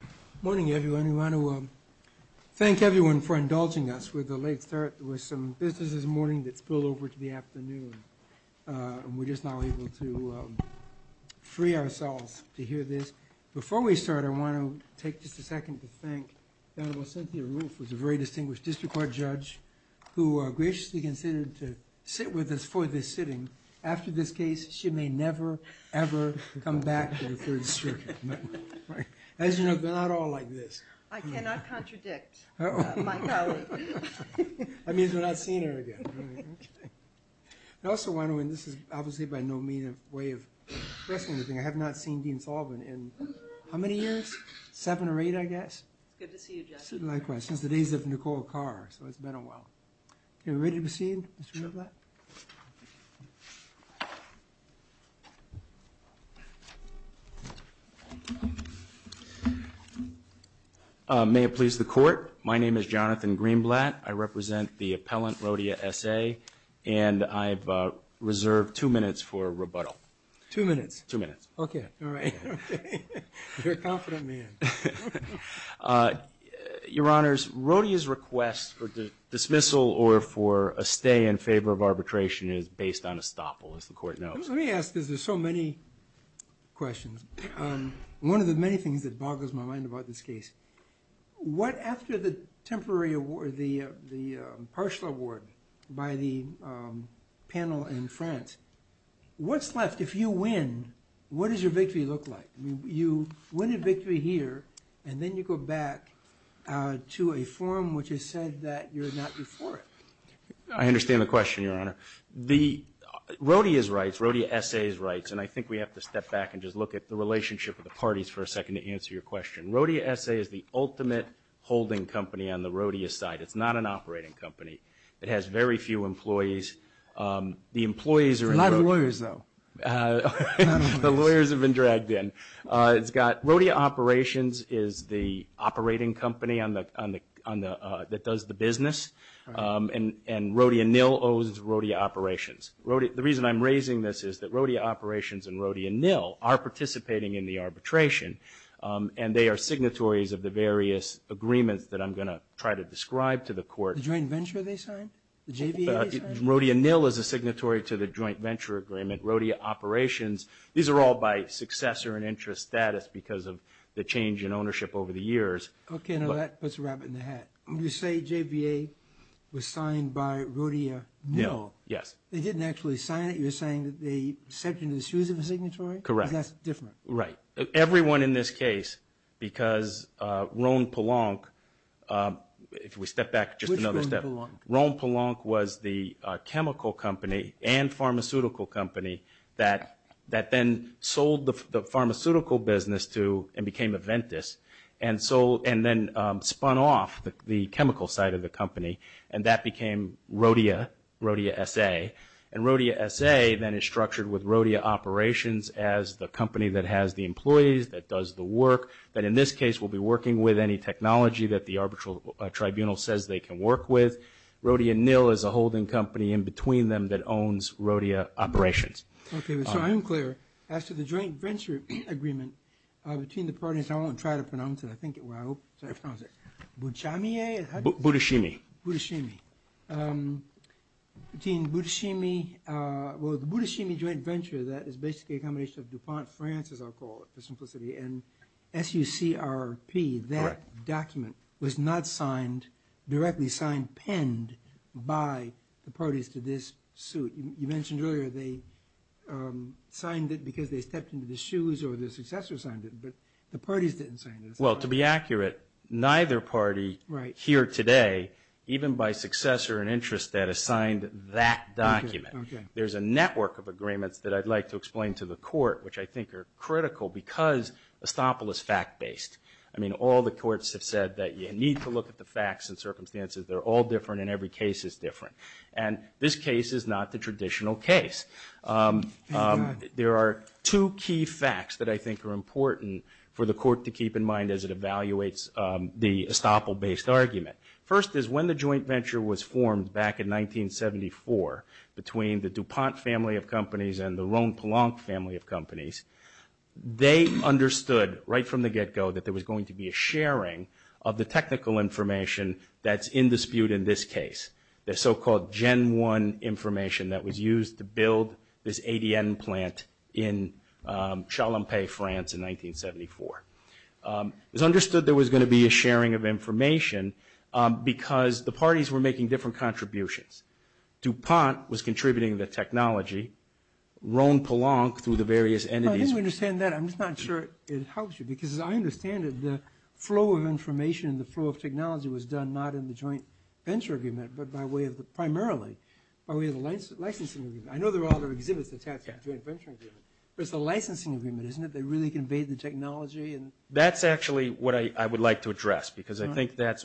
Good morning everyone. I want to thank everyone for indulging us with the late start. There was some business this morning that spilled over to the afternoon. We're just now able to free ourselves to hear this. Before we start, I want to take just a second to thank Eleanor Cynthia Roof, who's a very distinguished district court judge, who graciously consented to sit with us for this sitting. After this case, she may never, ever come back to the Third Circuit. As you know, we're not all like this. I cannot contradict my colleague. That means we're not seeing her again. I also want to, and this is obviously by no means a way of pessimizing, I have not seen Dean Faulman in how many years? Seven or eight, I guess. Good to see you, Judge. Likewise. It's the days of Nicole Carr, so it's been a while. Are we ready to proceed? May it please the court, my name is Jonathan Greenblatt. I represent the appellant, Rhodia S.A., and I've reserved two minutes for rebuttal. Two minutes? Two minutes. Okay. You're a confident man. Your Honors, Rhodia's request for dismissal or for a stay in favor of arbitration is based on estoppel, as the court knows. Let me ask, because there's so many questions. One of the many things that boggles my mind about this case, what after the partial award by the panel in France, what's left? If you win, what does your victory look like? You win a victory here, and then you go back to a forum which has said that you're not good for it. I understand the question, Your Honor. Rhodia's rights, Rhodia S.A.'s rights, and I think we have to step back and just look at the relationship of the parties for a second to answer your question. Rhodia S.A. is the ultimate holding company on the Rhodia side. It's not an operating company. It has very few employees. Not the lawyers, though. The lawyers have been dragged in. Rhodia Operations is the operating company that does the business, and Rhodia Nill owes Rhodia Operations. The reason I'm raising this is that Rhodia Operations and Rhodia Nill are participating in the arbitration, and they are signatories of the various agreements that I'm going to try to describe to the court. The joint venture they signed? Rhodia Nill is a signatory to the joint venture agreement. Rhodia Operations, these are all by successor and interest status because of the change in ownership over the years. Okay, now let's wrap it in the hat. You say JBA was signed by Rhodia Nill. Yes. They didn't actually sign it. You're saying that they stepped into the shoes of the signatory? Correct. That's different. Right. Everyone in this case, because Rhone-Polonc, if we step back just another step. Which Rhone-Polonc? Rhone-Polonc was the chemical company and pharmaceutical company that then sold the pharmaceutical business to and became Aventis, and then spun off the chemical side of the company, and that became Rhodia, Rhodia S.A. And Rhodia S.A. then is structured with Rhodia Operations as the company that has the employees, that does the work. But in this case, we'll be working with any technology that the arbitral tribunal says they can work with. Rhodia Nill is a holding company in between them that owns Rhodia Operations. Okay. So I'm clear. After the joint venture agreement between the parties – I won't try to pronounce it. I think it – well, I hope it's not pronounced it. Bouchamie? Bouchamie. Bouchamie. Between Bouchamie – well, the Bouchamie joint venture, that is basically a combination of DuPont France, as I'll call it, for simplicity, and F-U-C-R-P. Correct. That document was not signed – directly signed, penned by the parties to this suit. You mentioned earlier they signed it because they stepped into the shoes or the successor signed it, but the parties didn't sign it. Well, to be accurate, neither party here today, even by successor and interest, that has signed that document. There's a network of agreements that I'd like to explain to the court, which I think are critical, because Estoppel is fact-based. I mean, all the courts have said that you need to look at the facts and circumstances. They're all different and every case is different. And this case is not the traditional case. There are two key facts that I think are important for the court to keep in mind as it evaluates the Estoppel-based argument. First is when the joint venture was formed back in 1974 between the DuPont family of companies and the Rhone-Pelanc family of companies, they understood right from the get-go that there was going to be a sharing of the technical information that's in dispute in this case. The so-called Gen 1 information that was used to build this ADN plant in Chalampais, France, in 1974. It was understood there was going to be a sharing of information because the parties were making different contributions. DuPont was contributing the technology, Rhone-Pelanc through the various entities. I didn't understand that. I'm just not sure it helps you, because as I understand it, the flow of information and the flow of technology was done not in the joint venture agreement, but primarily by way of the licensing agreement. I know there are other exhibits that have joint venture agreements, but it's the licensing agreement, isn't it? They really conveyed the technology. That's actually what I would like to address, because I think that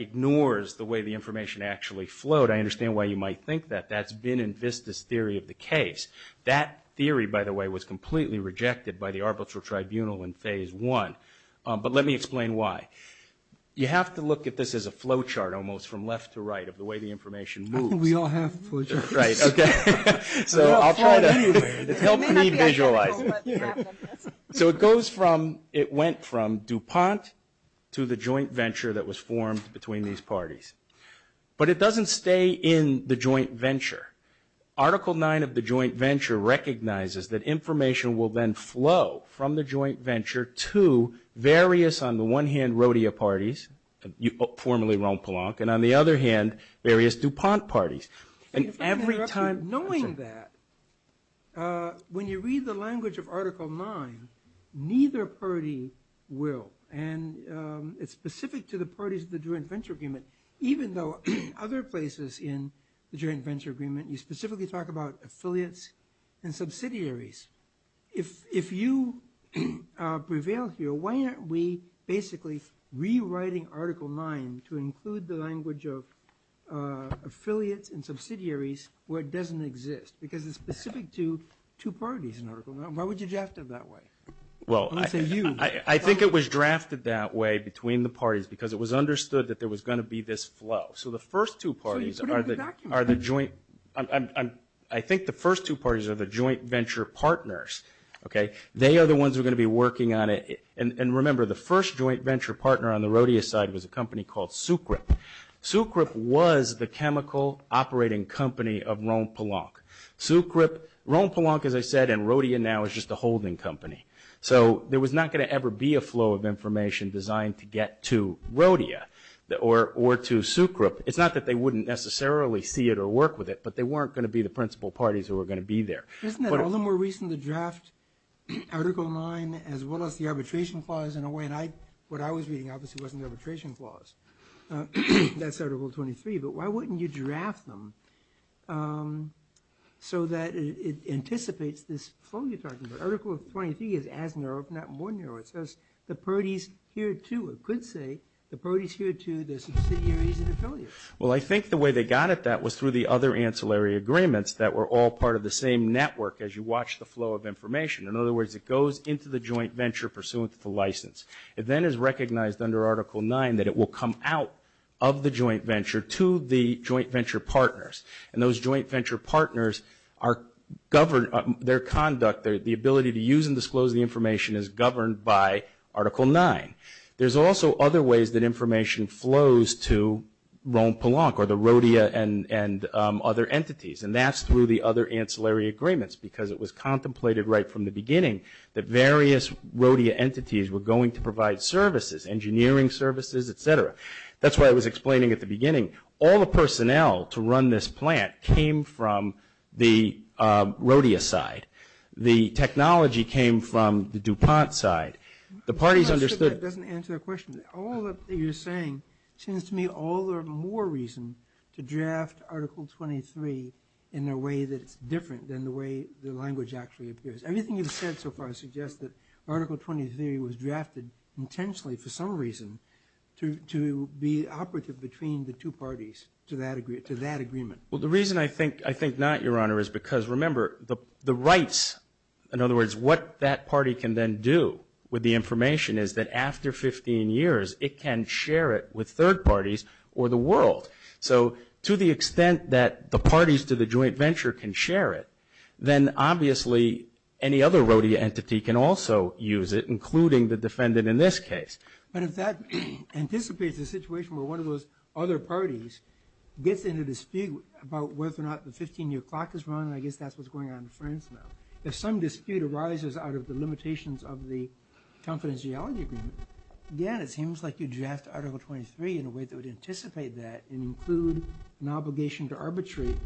ignores the way the information actually flowed. I understand why you might think that. That's been in VISTA's theory of the case. That theory, by the way, was completely rejected by the arbitral tribunal in phase one, but let me explain why. You have to look at this as a flow chart almost from left to right of the way the information moves. We all have flow charts. Right. Okay. So I'll try to help me visualize it. So it goes from, it went from DuPont to the joint venture that was formed between these parties. But it doesn't stay in the joint venture. Article 9 of the joint venture recognizes that information will then flow from the joint venture to various, on the one hand, Rodeo parties, formerly Ron Polonc, and on the other hand, various DuPont parties. And every time knowing that, when you read the language of Article 9, neither party will. And it's specific to the parties of the joint venture agreement, even though other places in the joint venture agreement, you specifically talk about affiliates and subsidiaries. If you prevail here, why aren't we basically rewriting Article 9 to include the language of affiliates and subsidiaries where it doesn't exist because it's specific to two parties in Article 9? Why would you draft it that way? Well, I think it was drafted that way between the parties because it was understood that there was going to be this flow. So the first two parties are the joint. I think the first two parties are the joint venture partners. Okay. They are the ones who are going to be working on it. And remember, the first joint venture partner on the Rodeo side was a company called Sucrep. Sucrep was the chemical operating company of Ron Polonc. Ron Polonc, as I said, and Rodeo now is just a holding company. So there was not going to ever be a flow of information designed to get to Rodeo or to Sucrep. It's not that they wouldn't necessarily see it or work with it, but they weren't going to be the principal parties who were going to be there. Isn't that a little more reason to draft Article 9 as well as the arbitration clause in a way? And what I was reading obviously wasn't the arbitration clause. That's Article 23. But why wouldn't you draft them so that it anticipates this? Article 23 is as narrow, if not more narrow. It says the party's here too. It could say the party's here too. They're subsidiaries of the company. Well, I think the way they got at that was through the other ancillary agreements that were all part of the same network as you watch the flow of information. In other words, it goes into the joint venture pursuant to the license. It then is recognized under Article 9 that it will come out of the joint venture to the joint venture partners. And those joint venture partners, their conduct, the ability to use and disclose the information is governed by Article 9. There's also other ways that information flows to Rhone-Polonc or the Rodeo and other entities, and that's through the other ancillary agreements because it was contemplated right from the beginning that various Rodeo entities were going to provide services, engineering services, et cetera. That's what I was explaining at the beginning. All the personnel to run this plant came from the Rodeo side. The technology came from the DuPont side. The party's understood. That doesn't answer the question. All that you're saying seems to me all the more reason to draft Article 23 in a way that's different than the way the language actually appears. Everything you've said so far suggests that Article 23 was drafted intentionally for some reason to be operative between the two parties to that agreement. Well, the reason I think not, Your Honor, is because, remember, the rights, in other words, what that party can then do with the information is that after 15 years, it can share it with third parties or the world. So to the extent that the parties to the joint venture can share it, then obviously any other Rodeo entity can also use it, including the defendant in this case. But if that anticipates a situation where one of those other parties gets into a dispute about whether or not the 15-year clock is running, I guess that's what's going on in the firms now. If some dispute arises out of the limitations of the confidentiality agreement, again, it seems like you draft Article 23 in a way that would anticipate that and include an obligation to arbitrate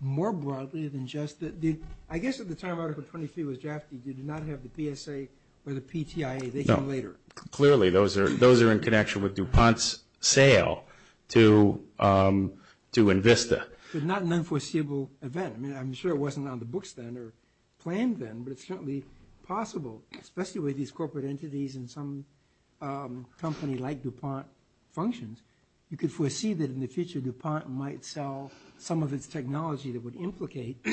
more broadly than just the – I guess at the time Article 23 was drafted, you did not have the PSA or the PTIA. They came later. Clearly, those are in connection with DuPont's sale to Invista. It's not an unforeseeable event. I mean, I'm sure it wasn't on the books then or planned then, but it's certainly possible, especially with these corporate entities and some companies like DuPont functions, you could foresee that in the future DuPont might sell some of its technology that would implicate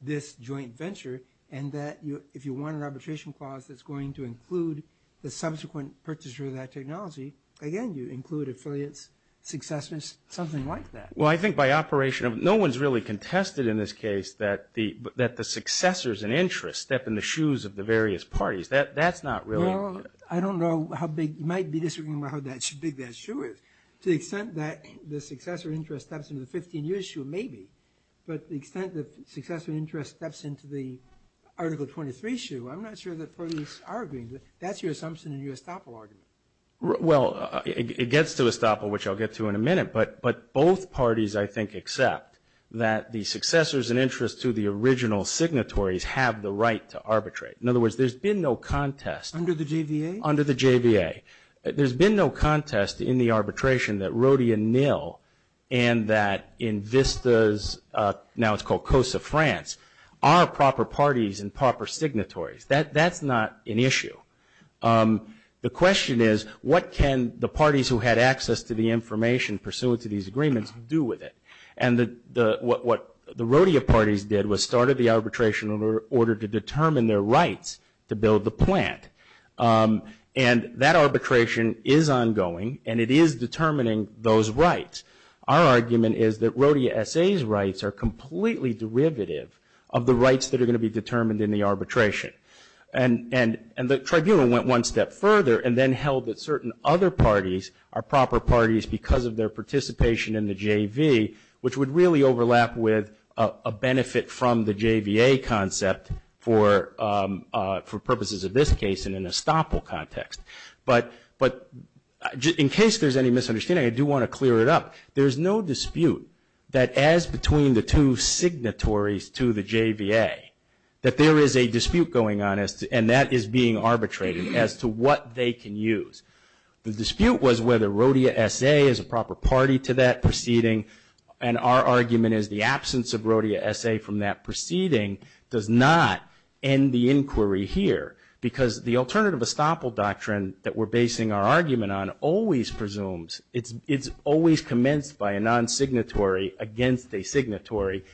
this joint venture and that if you want an arbitration clause that's going to include the subsequent purchase of that technology, again, you include affiliates, successors, something like that. Well, I think by operation – no one's really contested in this case that the successors and interest step in the shoes of the various parties. That's not really – Well, I don't know how big – you might be disagreeing about how big that shoe is. To the extent that the successor interest steps into the 15-year shoe, maybe, but the extent that successor interest steps into the Article 23 shoe, I'm not sure that's what you're arguing. That's your assumption and your estoppel argument. Well, it gets to estoppel, which I'll get to in a minute, but both parties, I think, accept that the successors and interest to the original signatories have the right to arbitrate. In other words, there's been no contest. Under the JVA? Under the JVA. There's been no contest in the arbitration that Rodia Nil and that in Vista's – now it's called Costa France – are proper parties and proper signatories. That's not an issue. The question is, what can the parties who had access to the information pursuant to these agreements do with it? And what the Rodia parties did was started the arbitration order to determine their rights to build the plant. And that arbitration is ongoing, and it is determining those rights. Our argument is that Rodia SA's rights are completely derivative of the rights that are going to be determined in the arbitration. And the tribunal went one step further and then held that certain other parties are proper parties because of their participation in the JV, which would really overlap with a benefit from the JVA concept for purposes of this case in an estoppel context. But in case there's any misunderstanding, I do want to clear it up. There is no dispute that as between the two signatories to the JVA, that there is a dispute going on and that is being arbitrated as to what they can use. The dispute was whether Rodia SA is a proper party to that proceeding, and our argument is the absence of Rodia SA from that proceeding does not end the inquiry here because the alternative estoppel doctrine that we're basing our argument on always presumes – it's always commenced by a non-signatory against a signatory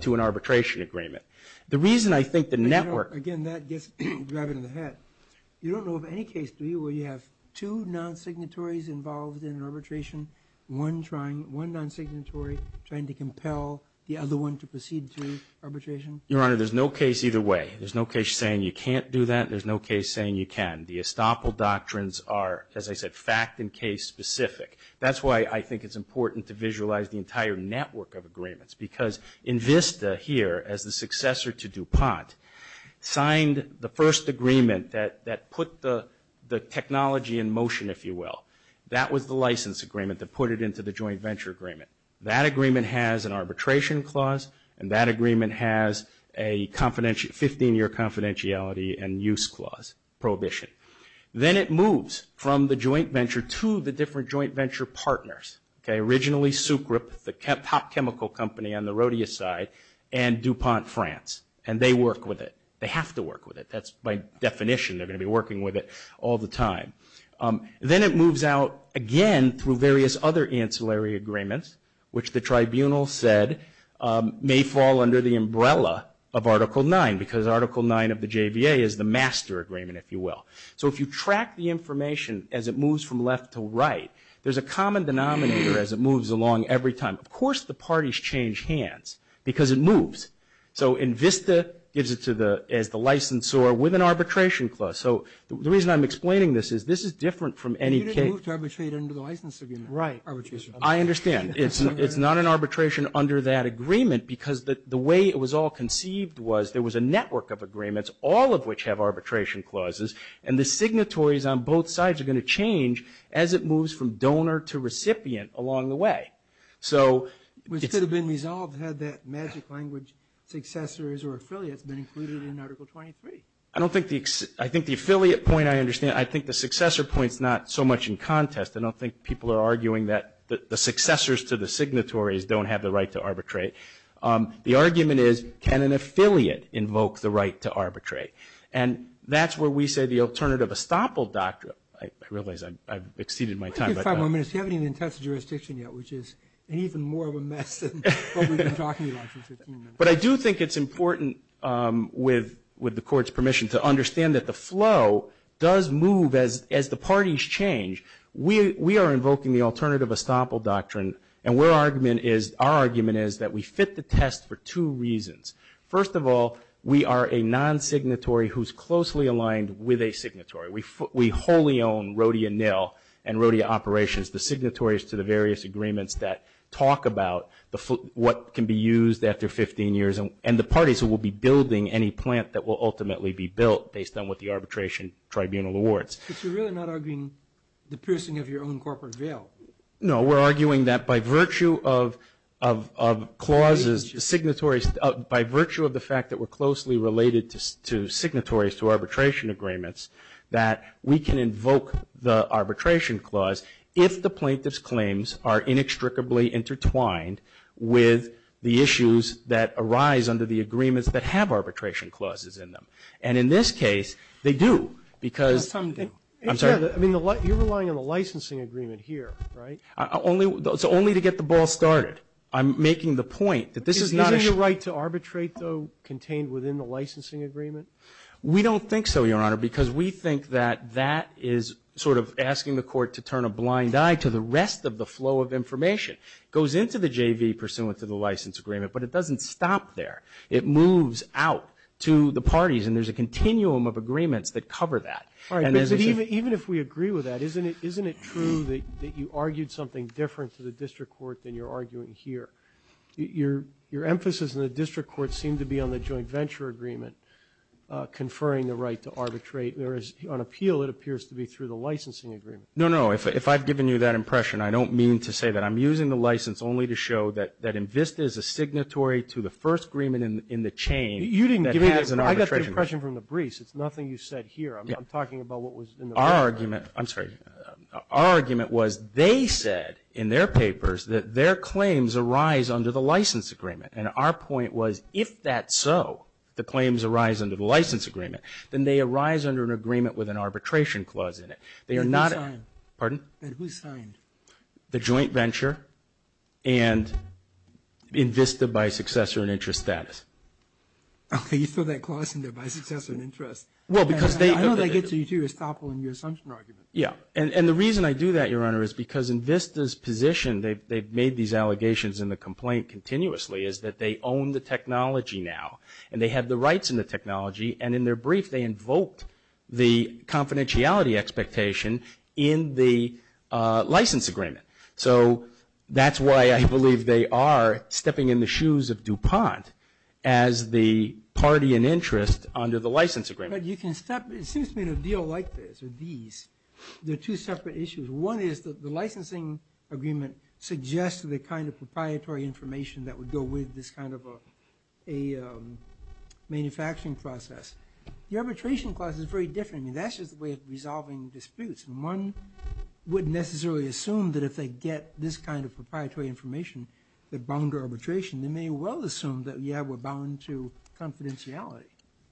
to an arbitration agreement. The reason I think the network – Again, that gets me driving in the head. You don't know of any case, do you, where you have two non-signatories involved in arbitration, one non-signatory trying to compel the other one to proceed through arbitration? Your Honor, there's no case either way. There's no case saying you can't do that. There's no case saying you can. The estoppel doctrines are, as I said, fact and case specific. That's why I think it's important to visualize the entire network of agreements because INVISTA here, as the successor to DuPont, signed the first agreement that put the technology in motion, if you will. That was the license agreement that put it into the joint venture agreement. That agreement has an arbitration clause, and that agreement has a 15-year confidentiality and use clause prohibition. Then it moves from the joint venture to the different joint venture partners, originally Sucrep, the top chemical company on the Rodia side, and DuPont France, and they work with it. They have to work with it. That's by definition. They're going to be working with it all the time. Then it moves out again through various other ancillary agreements, which the tribunal said may fall under the umbrella of Article 9 because Article 9 of the JBA is the master agreement, if you will. So if you track the information as it moves from left to right, there's a common denominator as it moves along every time. Of course the parties change hands because it moves. So INVISTA gives it to the licensor with an arbitration clause. So the reason I'm explaining this is this is different from any case. Right. I understand. It's not an arbitration under that agreement because the way it was all conceived was there was a network of agreements, all of which have arbitration clauses, and the signatories on both sides are going to change as it moves from donor to recipient along the way. So it could have been resolved had that magic language successor or affiliate been included in Article 23. I think the affiliate point I understand. I think the successor point is not so much in contest. I don't think people are arguing that the successors to the signatories don't have the right to arbitrate. The argument is can an affiliate invoke the right to arbitrate? And that's where we say the alternative estoppel doctrine. I realize I've exceeded my time. Just a moment. I haven't even touched jurisdiction yet, which is even more of a mess than what we've been talking about for 15 minutes. But I do think it's important, with the Court's permission, to understand that the flow does move as the parties change. We are invoking the alternative estoppel doctrine, and our argument is that we fit the test for two reasons. First of all, we are a non-signatory who's closely aligned with a signatory. We wholly own Rodia Nell and Rodia Operations, the signatories to the various agreements that talk about what can be used after 15 years and the parties who will be building any plant that will ultimately be built based on what the arbitration tribunal awards. But you're really not arguing the piercing of your own corporate veil. No, we're arguing that by virtue of clauses, by virtue of the fact that we're closely related to signatories to arbitration agreements, that we can invoke the arbitration clause if the plaintiff's claims are inextricably intertwined with the issues that arise under the agreements that have arbitration clauses in them. And in this case, they do. I'm sorry? You're relying on the licensing agreement here, right? It's only to get the ball started. I'm making the point that this is not a... Isn't there a right to arbitrate, though, contained within the licensing agreement? We don't think so, Your Honor, because we think that that is sort of asking the Court to turn a blind eye to the rest of the flow of information. It goes into the JV pursuant to the license agreement, but it doesn't stop there. It moves out to the parties, and there's a continuum of agreements that cover that. All right, but even if we agree with that, isn't it true that you argued something different to the district court than you're arguing here? Your emphasis in the district court seemed to be on the joint venture agreement, conferring the right to arbitrate, whereas on appeal it appears to be through the licensing agreement. No, no, if I've given you that impression, I don't mean to say that. I'm using the license only to show that INVISTA is a signatory to the first agreement in the chain. You didn't give me that impression from the briefs. It's nothing you said here. I'm talking about what was in the briefs. Our argument was they said in their papers that their claims arise under the license agreement, and our point was if that's so, the claims arise under the license agreement, then they arise under an agreement with an arbitration clause in it. And who signed? Pardon? And who signed? The joint venture and INVISTA by successor and interest status. Okay, you said that clause in there, by successor and interest. Well, because they know they get to you, too, as powerful in your assumption argument. Yeah, and the reason I do that, Your Honor, is because INVISTA's position, they've made these allegations in the complaint continuously, is that they own the technology now, and they have the rights in the technology, and in their brief they invoked the confidentiality expectation in the license agreement. So that's why I believe they are stepping in the shoes of DuPont as the party in interest under the license agreement. But you can step into a deal like this or these. There are two separate issues. One is the licensing agreement suggests the kind of proprietary information that would go with this kind of a manufacturing process. The arbitration clause is very different. That's just a way of resolving disputes. One wouldn't necessarily assume that if they get this kind of proprietary information, they're bound to arbitration. They may well assume that, yeah, we're bound to confidentiality.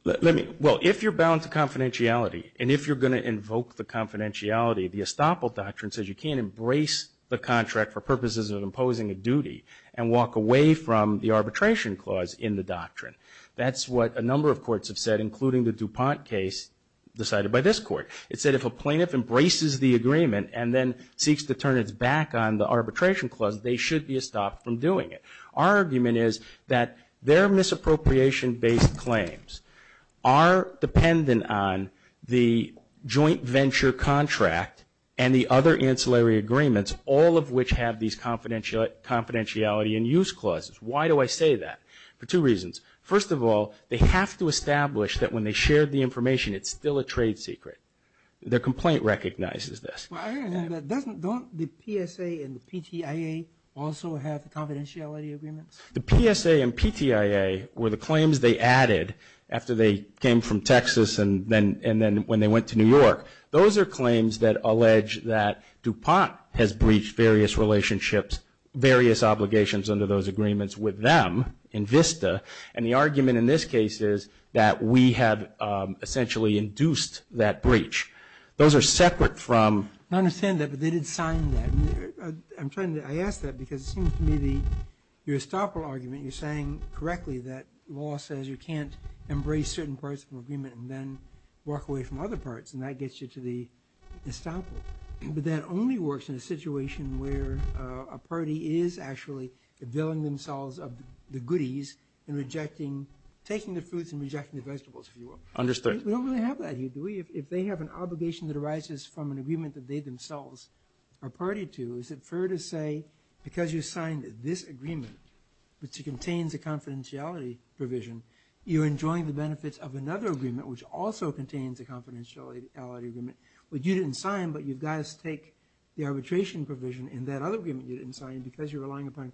Well, if you're bound to confidentiality, and if you're going to invoke the confidentiality, the estoppel doctrine says you can't embrace the contract for purposes of imposing a duty and walk away from the arbitration clause in the doctrine. That's what a number of courts have said, including the DuPont case decided by this court. It said if a plaintiff embraces the agreement and then seeks to turn its back on the arbitration clause, they should be estopped from doing it. Our argument is that their misappropriation-based claims are dependent on the joint venture contract and the other ancillary agreements, all of which have these confidentiality and use clauses. Why do I say that? For two reasons. First of all, they have to establish that when they share the information, it's still a trade secret. Their complaint recognizes this. But doesn't the PSA and the PTIA also have confidentiality agreements? The PSA and PTIA were the claims they added after they came from Texas and then when they went to New York. Those are claims that allege that DuPont has breached various relationships, various obligations under those agreements with them in VISTA, and the argument in this case is that we have essentially induced that breach. Those are separate from- I understand that, but they didn't sign that. I'm trying to-I ask that because it seems to me that your estoppel argument, you're saying correctly that law says you can't embrace certain parts of the agreement and then walk away from other parts, and that gets you to the estoppel. But that only works in a situation where a party is actually availing themselves of the goodies and rejecting-taking the fruits and rejecting the vegetables, if you will. Understood. We don't really have that here, do we? If they have an obligation that arises from an agreement that they themselves are party to, is it fair to say because you signed this agreement, which contains a confidentiality provision, you're enjoying the benefits of another agreement, which also contains a confidentiality agreement, but you didn't sign, but you guys take the arbitration provision in that other agreement you didn't sign because you're relying upon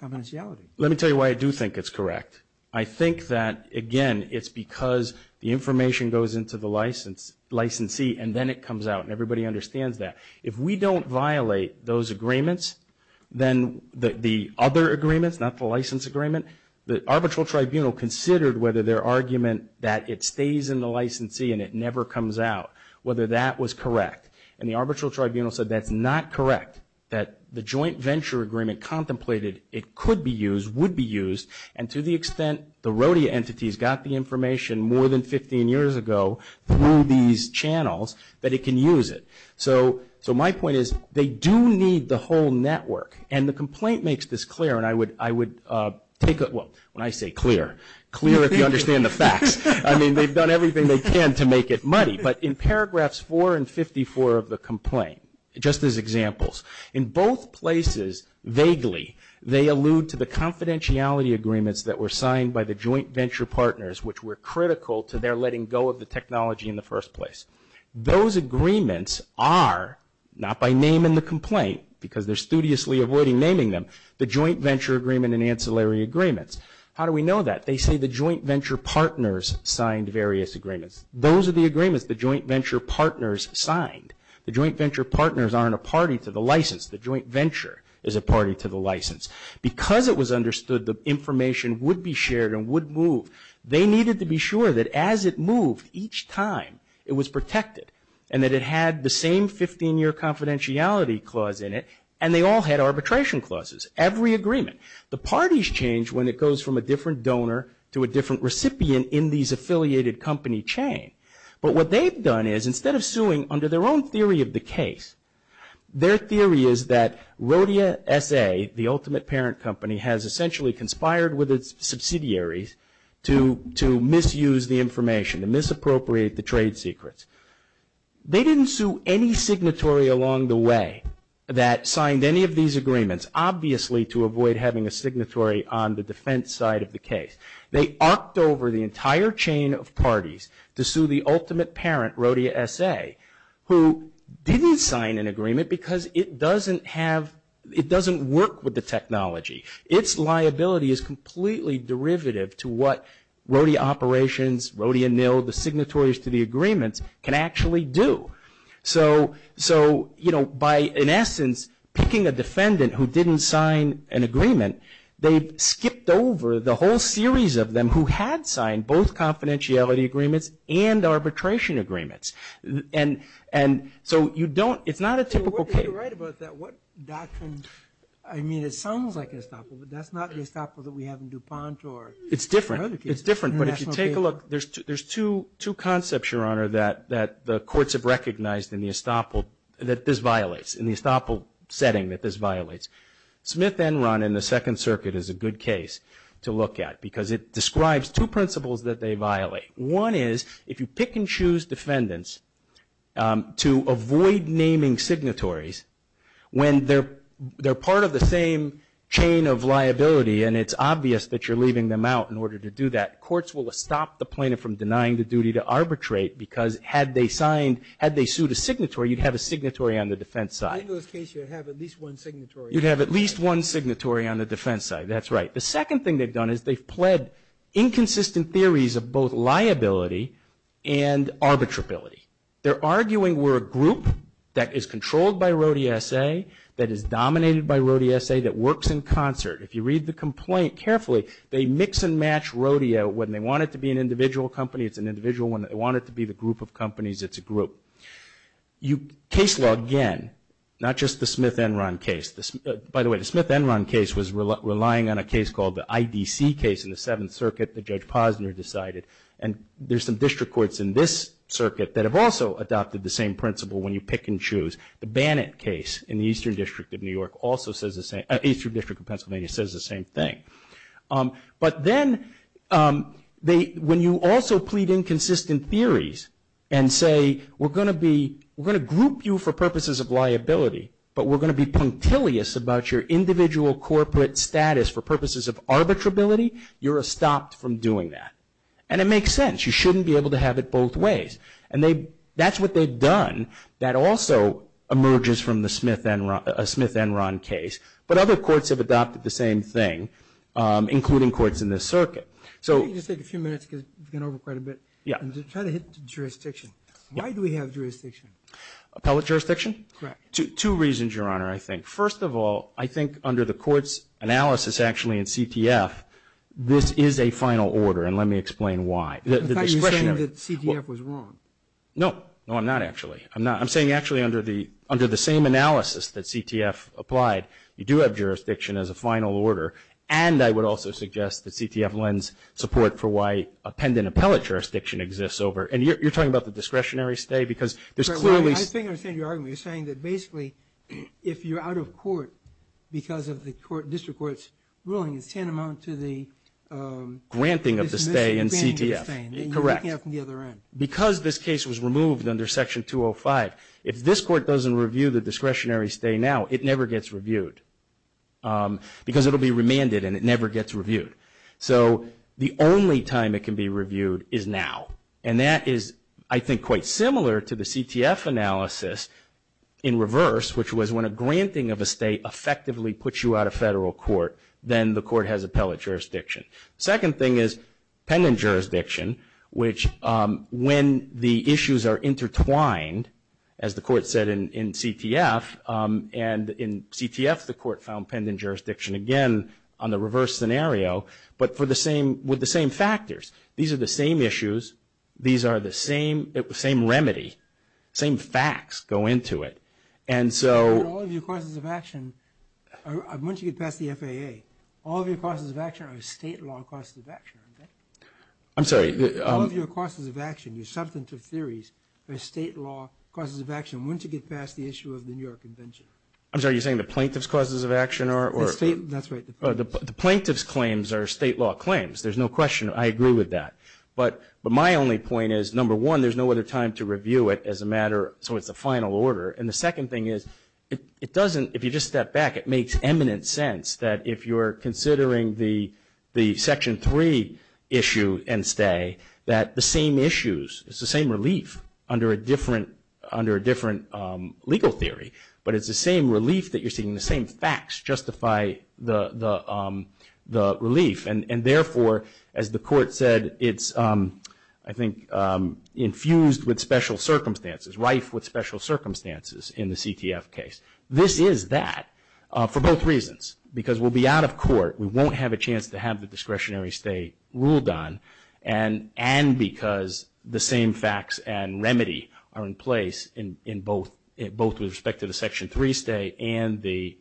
confidentiality? Let me tell you why I do think it's correct. I think that, again, it's because the information goes into the licensee, and then it comes out, and everybody understands that. If we don't violate those agreements, then the other agreements, not the license agreement, the arbitral tribunal considered whether their argument that it stays in the licensee and it never comes out, whether that was correct. And the arbitral tribunal said that's not correct, that the joint venture agreement contemplated it could be used, would be used, and to the extent the RODEA entities got the information more than 15 years ago through these channels, that it can use it. So my point is they do need the whole network, and the complaint makes this clear, and I would take it, well, when I say clear, clear if you understand the facts. I mean, they've done everything they can to make it money. But in paragraphs 4 and 54 of the complaint, just as examples, in both places, vaguely, they allude to the confidentiality agreements that were signed by the joint venture partners, which were critical to their letting go of the technology in the first place. Those agreements are, not by naming the complaint, because they're studiously avoiding naming them, the joint venture agreement and ancillary agreements. How do we know that? They say the joint venture partners signed various agreements. Those are the agreements the joint venture partners signed. The joint venture partners aren't a party to the license. The joint venture is a party to the license. Because it was understood the information would be shared and would move, they needed to be sure that as it moved each time it was protected and that it had the same 15-year confidentiality clause in it, and they all had arbitration clauses, every agreement. The parties change when it goes from a different donor to a different recipient in these affiliated company chains. But what they've done is, instead of suing under their own theory of the case, their theory is that Rhodia SA, the ultimate parent company, has essentially conspired with its subsidiaries to misuse the information, to misappropriate the trade secrets. They didn't sue any signatory along the way that signed any of these agreements, obviously to avoid having a signatory on the defense side of the case. They arced over the entire chain of parties to sue the ultimate parent, Rhodia SA, who didn't sign an agreement because it doesn't work with the technology. Its liability is completely derivative to what Rhodia Operations, Rhodia NIL, the signatories to the agreement, can actually do. So, you know, by, in essence, picking a defendant who didn't sign an agreement, they skipped over the whole series of them who had signed both confidentiality agreements and arbitration agreements. And so you don't, if not a typical case... You're right about that. I mean, it sounds like an estoppel, but that's not the estoppel that we have in DuPont or... It's different. It's different. But if you take a look, there's two concepts, Your Honor, that the courts have recognized in the estoppel that this violates, in the estoppel setting that this violates. Smith-Enron in the Second Circuit is a good case to look at, because it describes two principles that they violate. One is, if you pick and choose defendants to avoid naming signatories, when they're part of the same chain of liability, and it's obvious that you're leaving them out in order to do that, courts will stop the plaintiff from denying the duty to arbitrate, because had they signed, had they sued a signatory, you'd have a signatory on the defense side. In this case, you'd have at least one signatory. You'd have at least one signatory on the defense side. That's right. The second thing they've done is they've pled inconsistent theories of both liability and arbitrability. They're arguing we're a group that is controlled by Rode ESA, that is dominated by Rode ESA, that works in concert. If you read the complaint carefully, they mix and match Rodeo. When they want it to be an individual company, it's an individual. When they want it to be the group of companies, it's a group. Case law, again, not just the Smith-Enron case. By the way, the Smith-Enron case was relying on a case called the IDC case in the Seventh Circuit that Judge Posner decided. And there's some district courts in this circuit that have also adopted the same principle when you pick and choose. The Bannett case in the Eastern District of Pennsylvania says the same thing. But then when you also plead inconsistent theories and say we're going to group you for purposes of liability, but we're going to be punctilious about your individual corporate status for purposes of arbitrability, you're stopped from doing that. And it makes sense. You shouldn't be able to have it both ways. And that's what they've done. That also emerges from the Smith-Enron case. But other courts have adopted the same thing, including courts in this circuit. Let me just take a few minutes because we've gone over quite a bit. Yeah. I'm just trying to hit the jurisdiction. Why do we have jurisdiction? Appellate jurisdiction? Correct. Two reasons, Your Honor, I think. First of all, I think under the court's analysis actually in CTF, this is a final order, and let me explain why. In fact, you're saying that CTF was wrong. No. No, I'm not, actually. I'm saying actually under the same analysis that CTF applied, you do have jurisdiction as a final order. And I would also suggest that CTF lends support for why a pendant appellate jurisdiction exists over – and you're talking about the discretionary stay because there's clearly – I think I understand your argument. You're saying that basically if you're out of court because of the district court's ruling, it's tantamount to the – Granting of the stay in CTF. Correct. Because this case was removed under Section 205. If this court doesn't review the discretionary stay now, it never gets reviewed because it will be remanded and it never gets reviewed. So the only time it can be reviewed is now. And that is, I think, quite similar to the CTF analysis in reverse, which was when a granting of a stay effectively puts you out of federal court, then the court has appellate jurisdiction. Second thing is pendant jurisdiction, which when the issues are intertwined, as the court said in CTF, and in CTF the court found pendant jurisdiction again on the reverse scenario, but with the same factors. These are the same issues. These are the same remedy. Same facts go into it. And so – All of your causes of action, once you get past the FAA, all of your causes of action are state law causes of action. I'm sorry. All of your causes of action, there's substantive theories, are state law causes of action once you get past the issue of the New York Convention. I'm sorry. Are you saying the plaintiff's causes of action are – That's right. The plaintiff's claims are state law claims. There's no question. I agree with that. But my only point is, number one, there's no other time to review it as a matter – so it's a final order. And the second thing is, it doesn't – if you just step back, it makes eminent sense that if you're considering the Section 3 issue and stay, that the same issues, it's the same relief under a different legal theory, but it's the same relief that you're seeing. The same facts justify the relief. And, therefore, as the Court said, it's, I think, infused with special circumstances, rife with special circumstances in the CTF case. This is that for both reasons. Because we'll be out of court, we won't have a chance to have the discretionary stay ruled on, and because the same facts and remedy are in place in both with respect to the Section 3 stay and the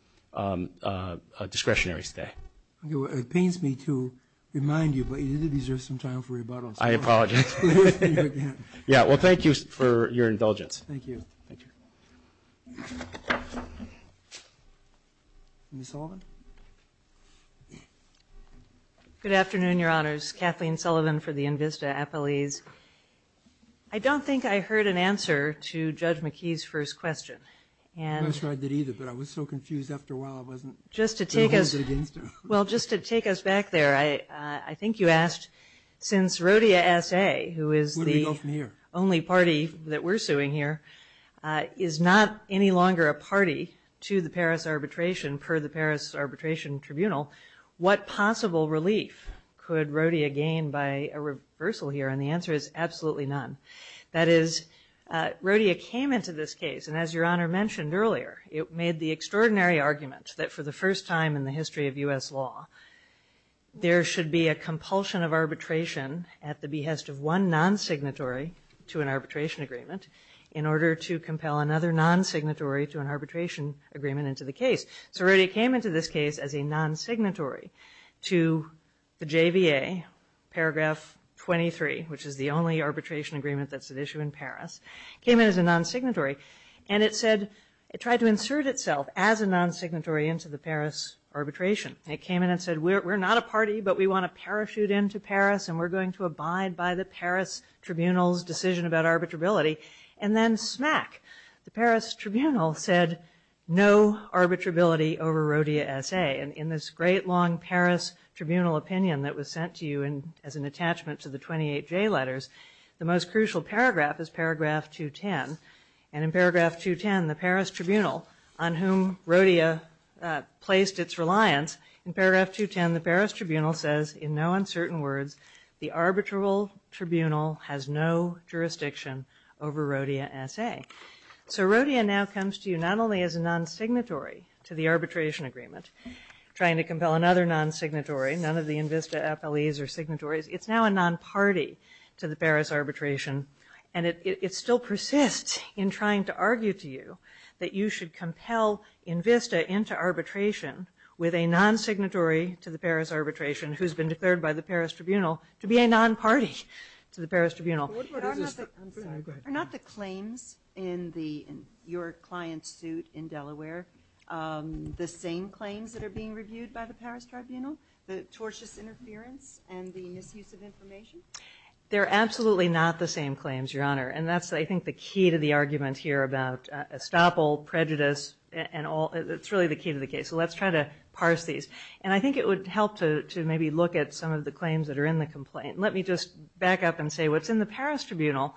discretionary stay. It pains me to remind you, but you deserve some time for rebuttal. I apologize. Yeah, well, thank you for your indulgence. Thank you. Thank you. Ms. Sullivan? Good afternoon, Your Honors. Kathleen Sullivan for the INVISTA appellees. I don't think I heard an answer to Judge McKee's first question. Well, just to take us back there, I think you asked, since Rodea S.A., who is the only party that we're suing here, is not any longer a party to the Paris arbitration per the Paris Arbitration Tribunal, what possible relief could Rodea gain by a reversal here? And the answer is absolutely none. That is, Rodea came into this case, and as Your Honor mentioned earlier, it made the extraordinary argument that for the first time in the history of U.S. law, there should be a compulsion of arbitration at the behest of one non-signatory to an arbitration agreement in order to compel another non-signatory to an arbitration agreement into the case. So Rodea came into this case as a non-signatory to the JVA, Paragraph 23, which is the only arbitration agreement that's at issue in Paris, came in as a non-signatory, and it said, it tried to insert itself as a non-signatory into the Paris arbitration. And it came in and said, we're not a party, but we want to parachute into Paris, and we're going to abide by the Paris Tribunal's decision about arbitrability. And then, smack, the Paris Tribunal said, no arbitrability over Rodea S.A. And in this great long Paris Tribunal opinion that was sent to you as an attachment to the 28 J letters, the most crucial paragraph is Paragraph 210. And in Paragraph 210, the Paris Tribunal, on whom Rodea placed its reliance, in Paragraph 210, the Paris Tribunal says, in no uncertain words, the arbitral tribunal has no jurisdiction over Rodea S.A. So Rodea now comes to you not only as a non-signatory to the arbitration agreement, trying to compel another non-signatory, none of the INVISTA FLEs are signatories, it's now a non-party to the Paris arbitration. And it still persists in trying to argue to you that you should compel INVISTA into arbitration with a non-signatory to the Paris arbitration who's been declared by the Paris Tribunal to be a non-party to the Paris Tribunal. Are not the claims in your client's suit in Delaware the same claims that are being reviewed by the Paris Tribunal? The tortious interference and the misuse of information? They're absolutely not the same claims, Your Honor. And that's, I think, the key to the argument here about estoppel, prejudice, and all. It's really the key to the case. So let's try to parse these. And I think it would help to maybe look at some of the claims that are in the complaint. Let me just back up and say what's in the Paris Tribunal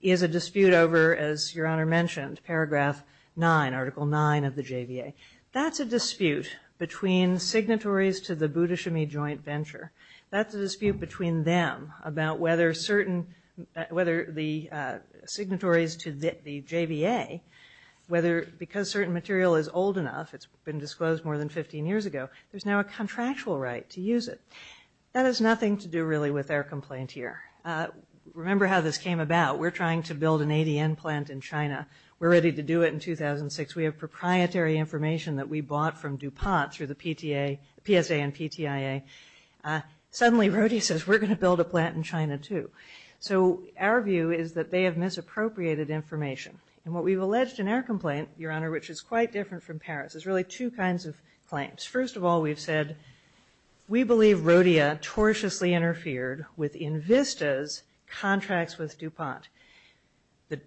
is a dispute over, as Your Honor mentioned, Paragraph 9, Article 9 of the JVA. That's a dispute between signatories to the Boudichemy Joint Venture. That's a dispute between them about whether the signatories to the JVA, because certain material is old enough, it's been disclosed more than 15 years ago, there's now a contractual right to use it. That has nothing to do really with our complaint here. Remember how this came about. We're trying to build an ADN plant in China. We're ready to do it in 2006. We have proprietary information that we bought from DuPont through the PSA and PTIA. Suddenly, Brody says we're going to build a plant in China too. So our view is that they have misappropriated information. And what we've alleged in our complaint, Your Honor, which is quite different from Paris, is really two kinds of claims. First of all, we've said we believe Rodia tortiously interfered with Invista's contracts with DuPont. The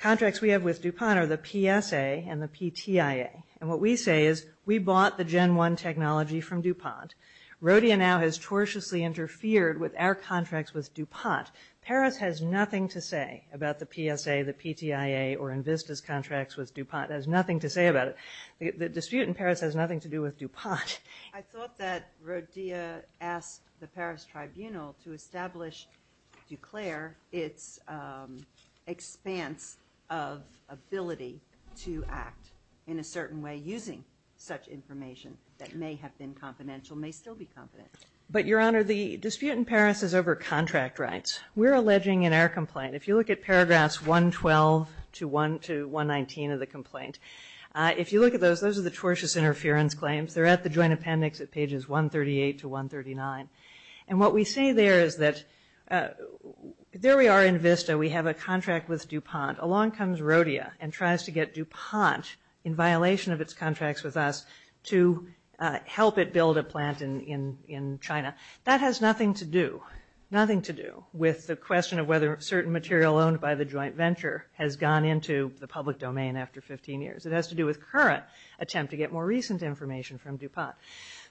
contracts we have with DuPont are the PSA and the PTIA. And what we say is we bought the Gen 1 technology from DuPont. Rodia now has tortiously interfered with our contracts with DuPont. Paris has nothing to say about the PSA, the PTIA, or Invista's contracts with DuPont. It has nothing to say about it. The dispute in Paris has nothing to do with DuPont. I thought that Rodia asked the Paris tribunal to establish, declare its expanse of ability to act in a certain way using such information that may have been confidential, may still be confidential. But, Your Honor, the dispute in Paris is over contract rights. We're alleging in our complaint, if you look at paragraphs 112 to 119 of the complaint, if you look at those, those are the tortious interference claims. They're at the joint appendix at pages 138 to 139. And what we say there is that there we are in Invista. We have a contract with DuPont. Along comes Rodia and tries to get DuPont, in violation of its contracts with us, to help it build a plant in China. That has nothing to do, nothing to do with the question of whether certain material owned by the joint venture has gone into the public domain after 15 years. It has to do with current attempt to get more recent information from DuPont.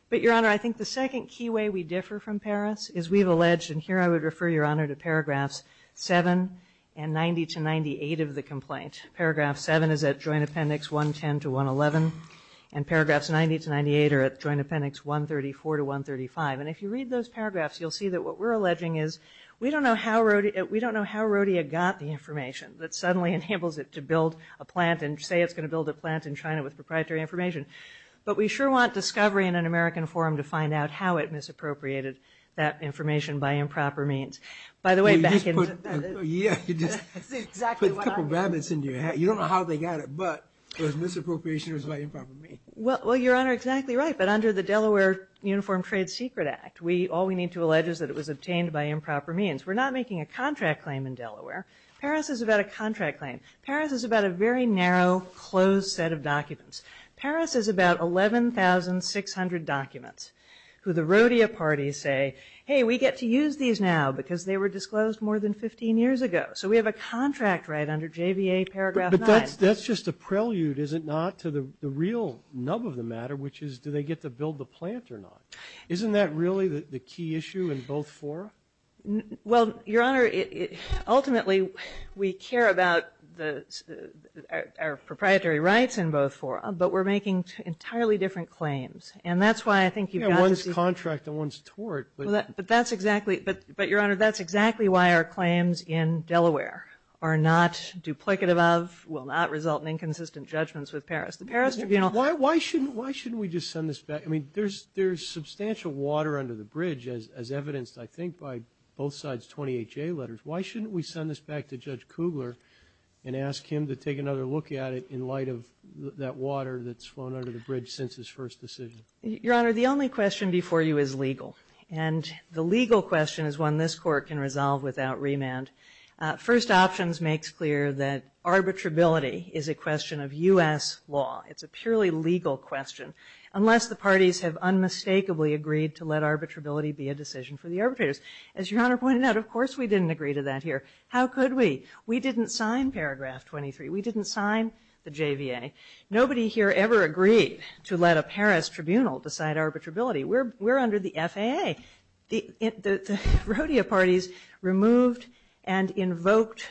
But, Your Honor, I think the second key way we differ from Paris is we've alleged, and here I would refer, Your Honor, to paragraphs 7 and 90 to 98 of the complaint. Paragraph 7 is at joint appendix 110 to 111. And paragraphs 90 to 98 are at joint appendix 134 to 135. And if you read those paragraphs, you'll see that what we're alleging is we don't know how Rodia got the information that suddenly enables it to build a plant and say it's going to build a plant in China with proprietary information. But we sure want discovery in an American forum to find out how it misappropriated that information by improper means. By the way, back in... You just put a couple of rabbits in your hat. You don't know how they got it, but it was misappropriated by improper means. Well, Your Honor, exactly right. But under the Delaware Uniform Trade Secret Act, all we need to allege is that it was obtained by improper means. We're not making a contract claim in Delaware. Paris is about a contract claim. Paris is about a very narrow, closed set of documents. Paris is about 11,600 documents who the Rodia parties say, hey, we get to use these now because they were disclosed more than 15 years ago. So we have a contract right under JVA paragraph 9. But that's just a prelude, is it not, to the real nub of the matter, which is do they get to build the plant or not? Isn't that really the key issue in both fora? Well, Your Honor, ultimately we care about our proprietary rights in both fora, but we're making entirely different claims. And that's why I think you've got to... You know, one's contract and one's tort. But that's exactly... But, Your Honor, that's exactly why our claims in Delaware are not duplicative of, will not result in inconsistent judgments with Paris. Why shouldn't we just send this back? I mean, there's substantial water under the bridge, as evidenced, I think, by both sides' 20HA letters. Why shouldn't we send this back to Judge Kugler and ask him to take another look at it in light of that water that's flown under the bridge since his first decision? Your Honor, the only question before you is legal. And the legal question is one this Court can resolve without remand. First Options makes clear that arbitrability is a question of U.S. law. It's a purely legal question. Unless the parties have unmistakably agreed to let arbitrability be a decision for the arbitrators. As Your Honor pointed out, of course we didn't agree to that here. How could we? We didn't sign Paragraph 23. We didn't sign the JVA. Nobody here ever agreed to let a Paris tribunal decide arbitrability. We're under the FAA. The Rodea parties removed and invoked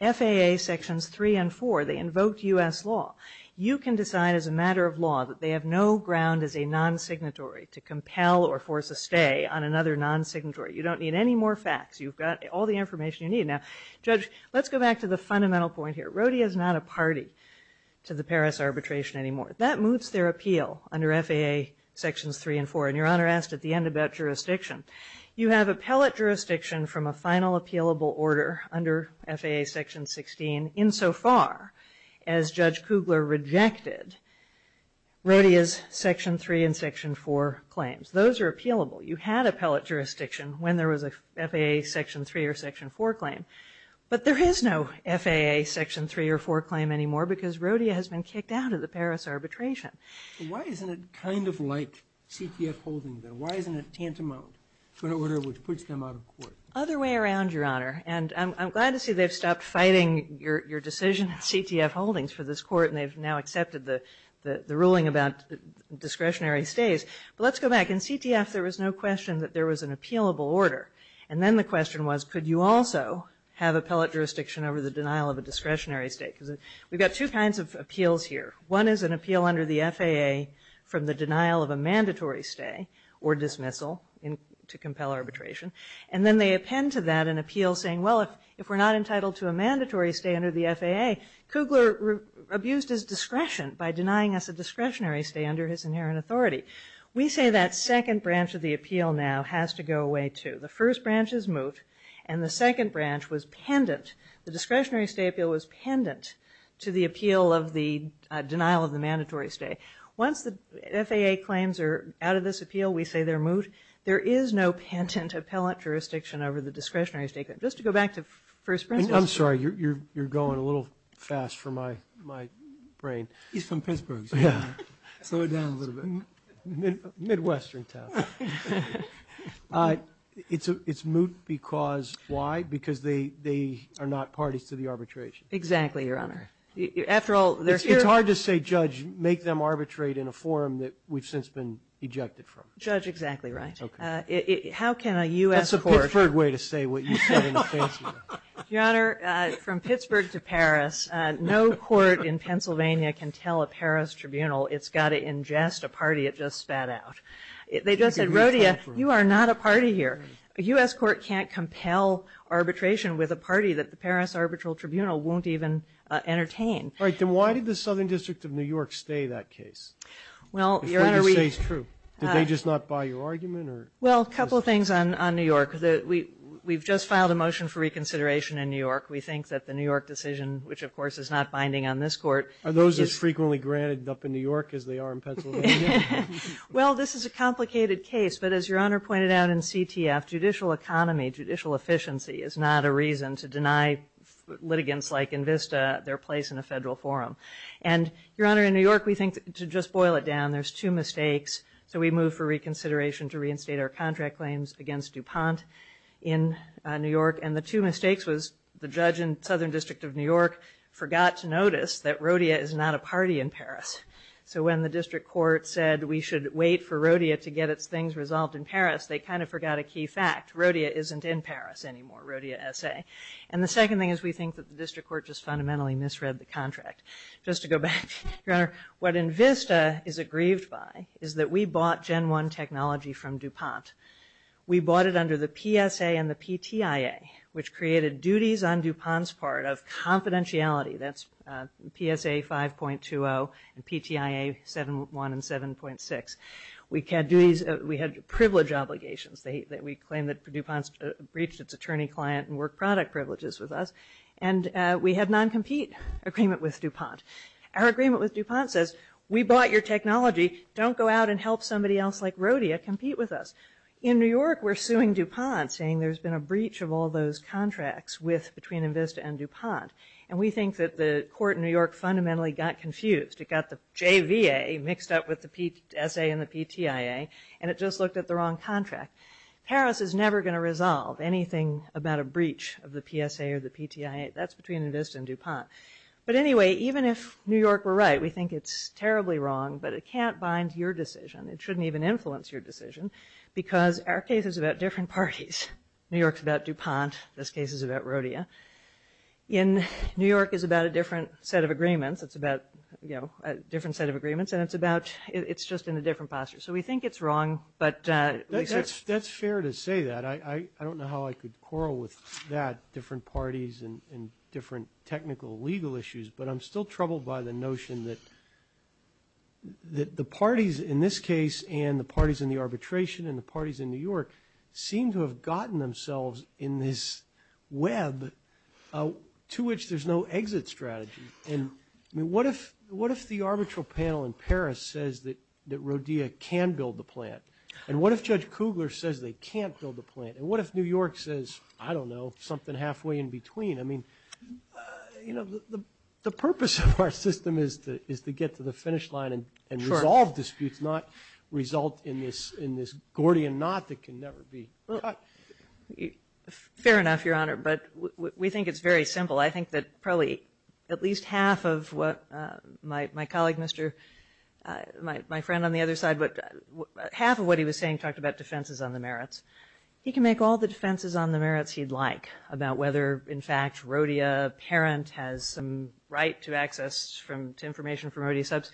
FAA Sections 3 and 4. They invoked U.S. law. You can decide as a matter of law that they have no ground as a non-signatory to compel or force a stay on another non-signatory. You don't need any more facts. You've got all the information you need. Now, Judge, let's go back to the fundamental point here. Rodea is not a party to the Paris arbitration anymore. That moves their appeal under FAA Sections 3 and 4. And Your Honor asked at the end about jurisdiction. You have appellate jurisdiction from a final appealable order under FAA Section 16 insofar as Judge Kugler rejected Rodea's Section 3 and Section 4 claims. Those are appealable. You had appellate jurisdiction when there was a FAA Section 3 or Section 4 claim. But there is no FAA Section 3 or 4 claim anymore because Rodea has been kicked out of the Paris arbitration. So why isn't it kind of like CPS holding them? Why isn't it tantamount to an order which puts them out of court? Other way around, Your Honor. And I'm glad to see they've stopped fighting your decision, CTF holdings, for this court, and they've now accepted the ruling about discretionary stays. But let's go back. In CTF, there was no question that there was an appealable order. And then the question was could you also have appellate jurisdiction over the denial of a discretionary stay? We've got two kinds of appeals here. One is an appeal under the FAA from the denial of a mandatory stay or dismissal to compel arbitration. And then they append to that an appeal saying, well, if we're not entitled to a mandatory stay under the FAA, Kugler abused his discretion by denying us a discretionary stay under his inherent authority. We say that second branch of the appeal now has to go away too. The first branch is moot, and the second branch was pendent. The discretionary stay appeal was pendent to the appeal of the denial of the mandatory stay. Once the FAA claims are out of this appeal, we say they're moot. There is no pendent appellate jurisdiction over the discretionary stay. Just to go back to first branch. I'm sorry. You're going a little fast for my brain. He's from Pittsburgh. Slow it down a little bit. Midwestern town. It's moot because why? Because they are not parties to the arbitration. Exactly, Your Honor. After all, they're here. It's hard to say, Judge, make them arbitrate in a forum that we've since been ejected from. Judge, exactly right. How can a U.S. court... That's a preferred way to say what you said in the case. Your Honor, from Pittsburgh to Paris, no court in Pennsylvania can tell a Paris tribunal it's got to ingest a party it just spat out. They just said, Rhodia, you are not a party here. A U.S. court can't compel arbitration with a party that the Paris Arbitral Tribunal won't even entertain. All right. Then why did the Southern District of New York stay that case? It stays true. Did they just not buy your argument? Well, a couple of things on New York. We've just filed a motion for reconsideration in New York. We think that the New York decision, which, of course, is not binding on this court... Are those as frequently granted up in New York as they are in Pennsylvania? Well, this is a complicated case, but as Your Honor pointed out in CTF, judicial economy, judicial efficiency, is not a reason to deny litigants like Invista their place in a federal forum. And, Your Honor, in New York, we think, to just boil it down, there's two mistakes. So we moved for reconsideration to reinstate our contract claims against DuPont in New York. And the two mistakes was the judge in Southern District of New York forgot to notice that Rhodia is not a party in Paris. So when the district court said we should wait for Rhodia to get its things resolved in Paris, they kind of forgot a key fact. Rhodia isn't in Paris anymore, Rhodia S.A. And the second thing is we think that the district court just fundamentally misread the contract. Just to go back, Your Honor, what Invista is aggrieved by is that we bought Gen 1 technology from DuPont. We bought it under the PSA and the PTIA, which created duties on DuPont's part of confidentiality. That's PSA 5.20 and PTIA 7.1 and 7.6. We had privilege obligations. We claimed that DuPont breached its attorney client and work product privileges with us. And we had non-compete agreement with DuPont. Our agreement with DuPont says, we bought your technology. Don't go out and help somebody else like Rhodia compete with us. In New York, we're suing DuPont, saying there's been a breach of all those contracts between Invista and DuPont. And we think that the court in New York fundamentally got confused. It got the JVA mixed up with the PSA and the PTIA, and it just looked at the wrong contract. Harris is never going to resolve anything about a breach of the PSA or the PTIA. That's between Invista and DuPont. But anyway, even if New York were right, we think it's terribly wrong, but it can't bind your decision. It shouldn't even influence your decision because our case is about different parties. New York's about DuPont. This case is about Rhodia. And New York is about a different set of agreements. It's about, you know, a different set of agreements. And it's about – it's just in a different posture. So we think it's wrong, but – That's fair to say that. I don't know how I could quarrel with that, different parties and different technical legal issues. But I'm still troubled by the notion that the parties in this case and the parties in the arbitration and the parties in New York seem to have gotten themselves in this web to which there's no exit strategy. And what if the arbitral panel in Paris says that Rhodia can build the plant? And what if Judge Kugler says they can't build the plant? And what if New York says, I don't know, something halfway in between? I mean, you know, the purpose of our system is to get to the finish line and resolve disputes, not result in this Gordian knot that can never be cut. Fair enough, Your Honor. But we think it's very simple. I think that probably at least half of what my colleague, Mr. – my friend on the other side, but half of what he was saying talked about defenses on the merits. He can make all the defenses on the merits he'd like about whether, in fact, Rhodia parent has some right to access from – to information from Rhodia subs.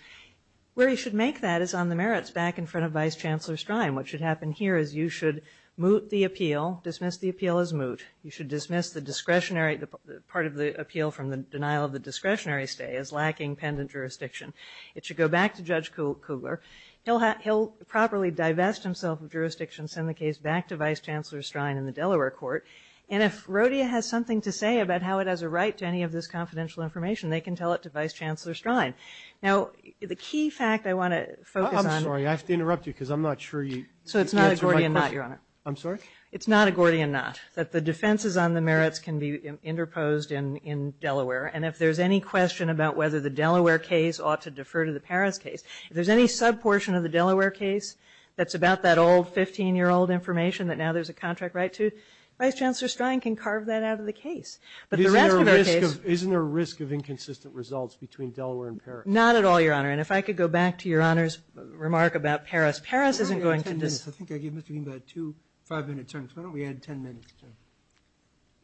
Where he should make that is on the merits back in front of Vice Chancellor Stein. What should happen here is you should moot the appeal, dismiss the appeal as moot. You should dismiss the discretionary – part of the appeal from the denial of the discretionary stay is lacking pendant jurisdiction. It should go back to Judge Kugler. He'll properly divest himself of jurisdiction, send the case back to Vice Chancellor Stein in the Delaware court. And if Rhodia has something to say about how it has a right to any of this confidential information, they can tell it to Vice Chancellor Stein. Now, the key fact I want to focus on – I'm sorry, I have to interrupt you because I'm not sure you – So it's not a Gordian knot, Your Honor. I'm sorry? It's not a Gordian knot, that the defenses on the merits can be interposed in Delaware. And if there's any question about whether the Delaware case ought to defer to the Paris case, if there's any sub-portion of the Delaware case that's about that old 15-year-old information that now there's a contract right to, Vice Chancellor Stein can carve that out of the case. But the rest of our case – Isn't there a risk of inconsistent results between Delaware and Paris? Not at all, Your Honor. And if I could go back to Your Honor's remark about Paris, Paris isn't going to – I think I gave Mr. Green about two five-minute terms. Why don't we add ten minutes to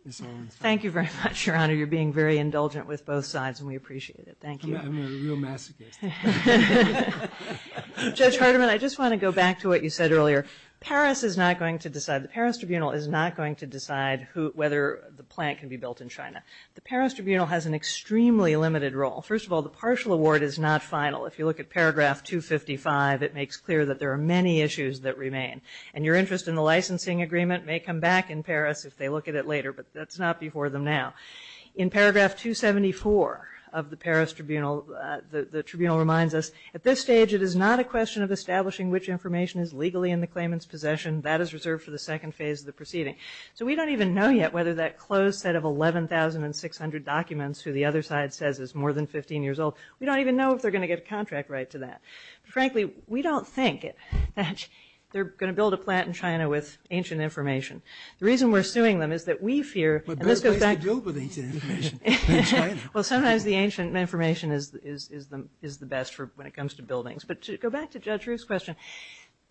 this one? Thank you very much, Your Honor. You're being very indulgent with both sides, and we appreciate it. Thank you. I'm a real masochist. Judge Hardiman, I just want to go back to what you said earlier. Paris is not going to decide – the Paris Tribunal is not going to decide whether the plant can be built in China. The Paris Tribunal has an extremely limited role. First of all, the partial award is not final. If you look at paragraph 255, it makes clear that there are many issues that remain. And your interest in the licensing agreement may come back in Paris if they look at it later, but that's not before them now. In paragraph 274 of the Paris Tribunal, the Tribunal reminds us, at this stage it is not a question of establishing which information is legally in the claimant's possession. That is reserved for the second phase of the proceeding. So we don't even know yet whether that closed set of 11,600 documents, who the other side says is more than 15 years old, we don't even know if they're going to get a contract right to that. Frankly, we don't think that they're going to build a plant in China with ancient information. The reason we're suing them is that we fear – Well, good place to deal with ancient information in China. Well, sometimes the ancient information is the best when it comes to buildings. But to go back to Judge Ruth's question,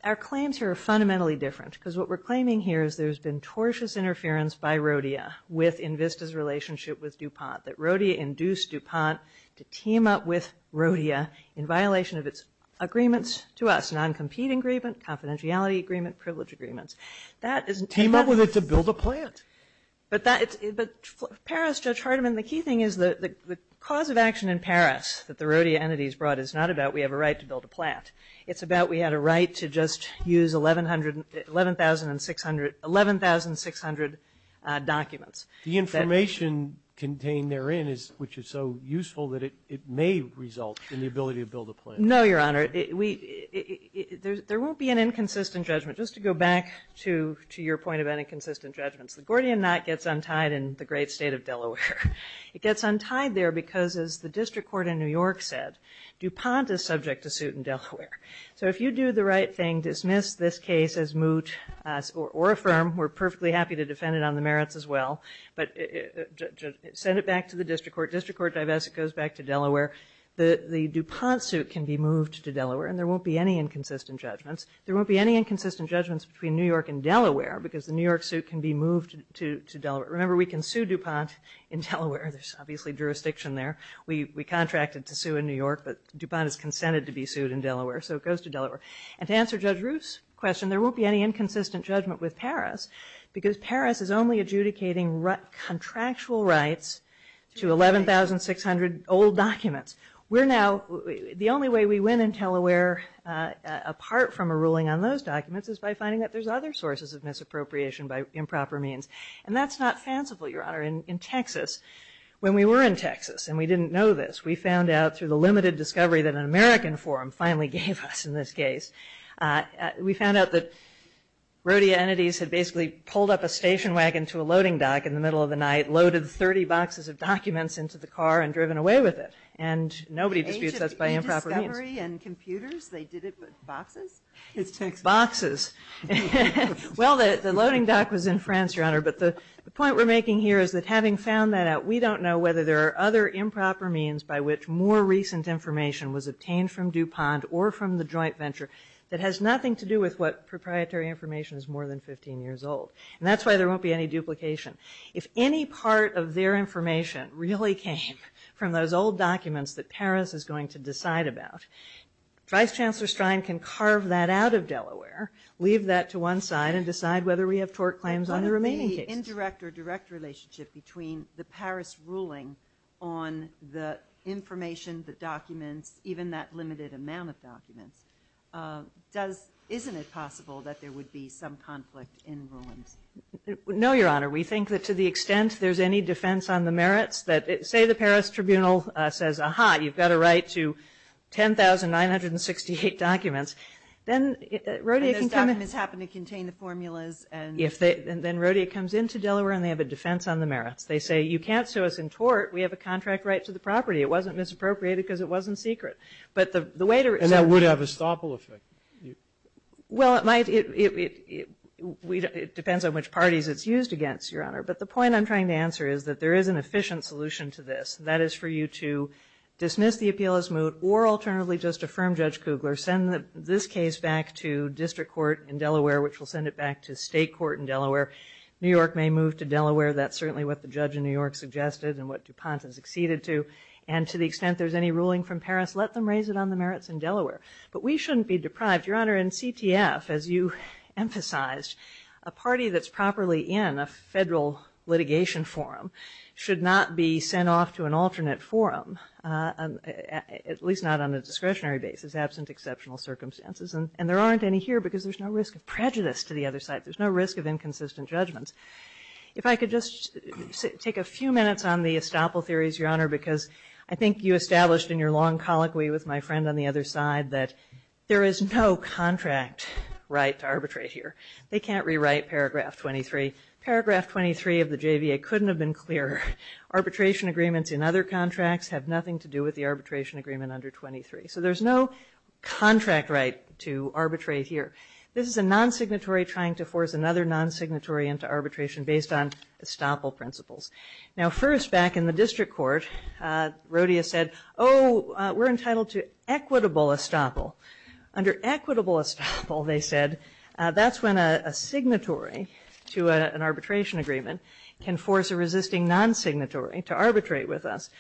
our claims here are fundamentally different because what we're claiming here is there's been tortious interference by Rodea within VISTA's relationship with DuPont, that Rodea induced DuPont to team up with Rodea in violation of its agreements to us, non-competing agreements, confidentiality agreements, privilege agreements. Team up with it to build a plant? But Paris, Judge Hardiman, the key thing is the cause of action in Paris that the Rodea entities brought is not about we have a right to build a plant. It's about we had a right to just use 11,600 documents. The information contained therein, which is so useful, that it may result in the ability to build a plant. No, Your Honor. There won't be an inconsistent judgment. Just to go back to your point about inconsistent judgments, the Gordian knot gets untied in the great state of Delaware. It gets untied there because, as the district court in New York said, DuPont is subject to suit in Delaware. So if you do the right thing, dismiss this case as moot or affirm, we're perfectly happy to defend it on the merits as well, but send it back to the district court. District court divest, it goes back to Delaware. The DuPont suit can be moved to Delaware, and there won't be any inconsistent judgments. There won't be any inconsistent judgments between New York and Delaware because the New York suit can be moved to Delaware. Remember, we can sue DuPont in Delaware. There's obviously jurisdiction there. We contracted to sue in New York, but DuPont has consented to be sued in Delaware, so it goes to Delaware. And to answer Judge Ruth's question, there won't be any inconsistent judgment with Paris because Paris is only adjudicating contractual rights to 11,600 old documents. The only way we win in Delaware, apart from a ruling on those documents, is by finding that there's other sources of misappropriation by improper means. And that's not fanciful, Your Honor. In Texas, when we were in Texas and we didn't know this, we found out through the limited discovery that an American forum finally gave us in this case. We found out that Rodia Entities had basically pulled up a station wagon to a loading dock in the middle of the night, loaded 30 boxes of documents into the car, and driven away with it. And nobody could be assessed by improper means. They did it with boxes? Boxes. Well, the loading dock was in France, Your Honor, but the point we're making here is that having found that out, we don't know whether there are other improper means by which more recent information was obtained from DuPont or from the joint venture that has nothing to do with what proprietary information is more than 15 years old. And that's why there won't be any duplication. If any part of their information really came from those old documents that Paris is going to decide about, Vice Chancellor Stein can carve that out of Delaware, leave that to one side, and decide whether we have tort claims on the remaining cases. The indirect or direct relationship between the Paris ruling on the information, the documents, even that limited amount of documents, isn't it possible that there would be some conflict in ruin? No, Your Honor. We think that to the extent there's any defense on the merits, say the Paris tribunal says, ah-ha, you've got a right to 10,968 documents, then Rodea can come in. And those documents happen to contain the formulas. Then Rodea comes into Delaware and they have a defense on the merits. They say, you can't sue us in tort. We have a contract right to the property. It wasn't misappropriated because it wasn't secret. And that would have a stoppel effect. Well, it depends on which parties it's used against, Your Honor. But the point I'm trying to answer is that there is an efficient solution to this. That is for you to dismiss the appeal as moot or alternatively just affirm Judge Kugler, send this case back to district court in Delaware, which will send it back to state court in Delaware. New York may move to Delaware. That's certainly what the judge in New York suggested and what DuPont has acceded to. And to the extent there's any ruling from Paris, let them raise it on the merits in Delaware. But we shouldn't be deprived. Your Honor, in CTF, as you emphasized, a party that's properly in a federal litigation forum should not be sent off to an alternate forum, at least not on a discretionary basis, absent exceptional circumstances. And there aren't any here because there's no risk of prejudice to the other side. There's no risk of inconsistent judgments. If I could just take a few minutes on the estoppel theories, Your Honor, because I think you established in your long colloquy with my friend on the other side that there is no contract right to arbitrate here. They can't rewrite paragraph 23. Paragraph 23 of the JVA couldn't have been clearer. Arbitration agreements in other contracts have nothing to do with the arbitration agreement under 23. So there's no contract right to arbitrate here. This is a non-signatory trying to force another non-signatory into arbitration based on estoppel principles. Now, first, back in the district court, Rodia said, oh, we're entitled to equitable estoppel. Under equitable estoppel, they said, that's when a signatory to an arbitration agreement can force a resisting non-signatory to arbitrate with us.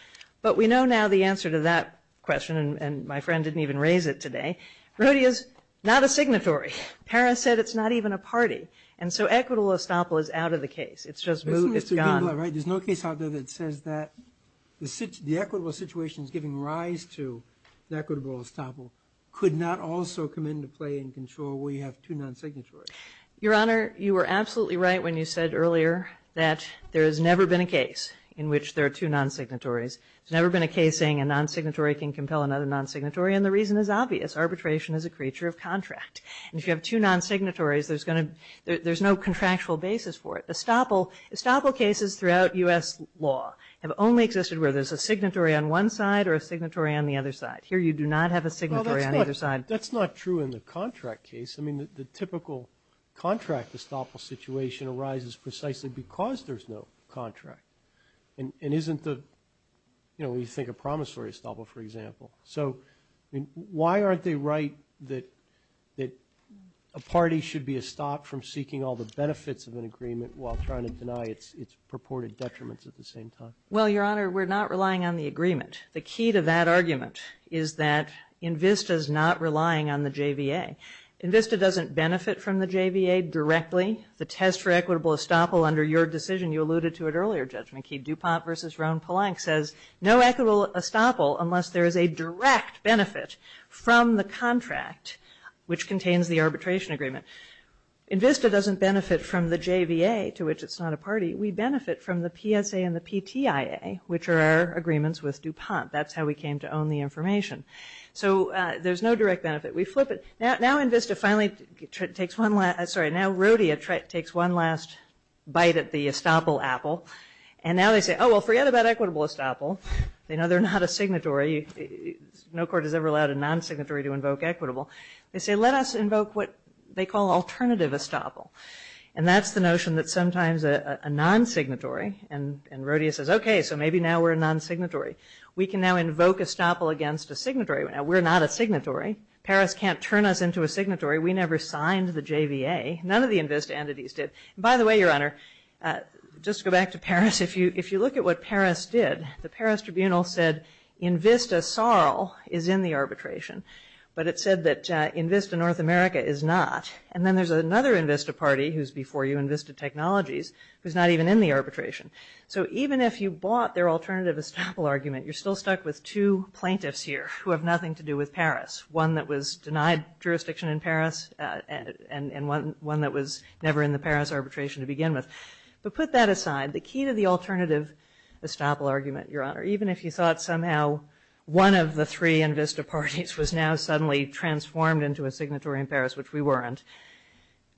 But we know now the answer to that question, and my friend didn't even raise it today. Rodia's not a signatory. Karen said it's not even a party. And so equitable estoppel is out of the case. It's just gone. There's no case out there that says that the equitable situation is giving rise to the equitable estoppel could not also come into play and control where you have two non-signatories. Your Honor, you were absolutely right when you said earlier that there has never been a case in which there are two non-signatories. There's never been a case saying a non-signatory can compel another non-signatory, and the reason is obvious. Arbitration is a creature of contract. If you have two non-signatories, there's no contractual basis for it. Estoppel cases throughout U.S. law have only existed where there's a signatory on one side or a signatory on the other side. Here you do not have a signatory on either side. That's not true in the contract case. I mean, the typical contract estoppel situation arises precisely because there's no contract. It isn't the, you know, when you think of promissory estoppel, for example. So why aren't they right that a party should be estopped from seeking all the benefits of an agreement while trying to deny its purported detriments at the same time? Well, Your Honor, we're not relying on the agreement. The key to that argument is that INVISTA is not relying on the JVA. INVISTA doesn't benefit from the JVA directly. The test for equitable estoppel under your decision, you alluded to it earlier, Judge McKee. DuPont v. Roane Polank says no equitable estoppel unless there is a direct benefit from the contract which contains the arbitration agreement. INVISTA doesn't benefit from the JVA, to which it's not a party. We benefit from the PSA and the PTIA, which are our agreements with DuPont. That's how we came to own the information. So there's no direct benefit. We flip it. Now INVISTA finally takes one last... I'm sorry, now Rhodia takes one last bite at the estoppel apple, and now they say, oh, well, forget about equitable estoppel. They know they're not a signatory. No court has ever allowed a non-signatory to invoke equitable. They say, let us invoke what they call alternative estoppel. And that's the notion that sometimes a non-signatory, and Rhodia says, okay, so maybe now we're a non-signatory. We can now invoke estoppel against a signatory. Now we're not a signatory. Paris can't turn us into a signatory. We never signed the JVA. None of the INVISTA entities did. By the way, Your Honor, just to go back to Paris, if you look at what Paris did, the Paris tribunal said INVISTA-SARL is in the arbitration, but it said that INVISTA-North America is not. And then there's another INVISTA party, who's before you, INVISTA-Technologies, who's not even in the arbitration. So even if you bought their alternative estoppel argument, you're still stuck with two plaintiffs here who have nothing to do with Paris, one that was denied jurisdiction in Paris and one that was never in the Paris arbitration to begin with. But put that aside, the key to the alternative estoppel argument, Your Honor, even if you thought somehow one of the three INVISTA parties was now suddenly transformed into a signatory in Paris, which we weren't.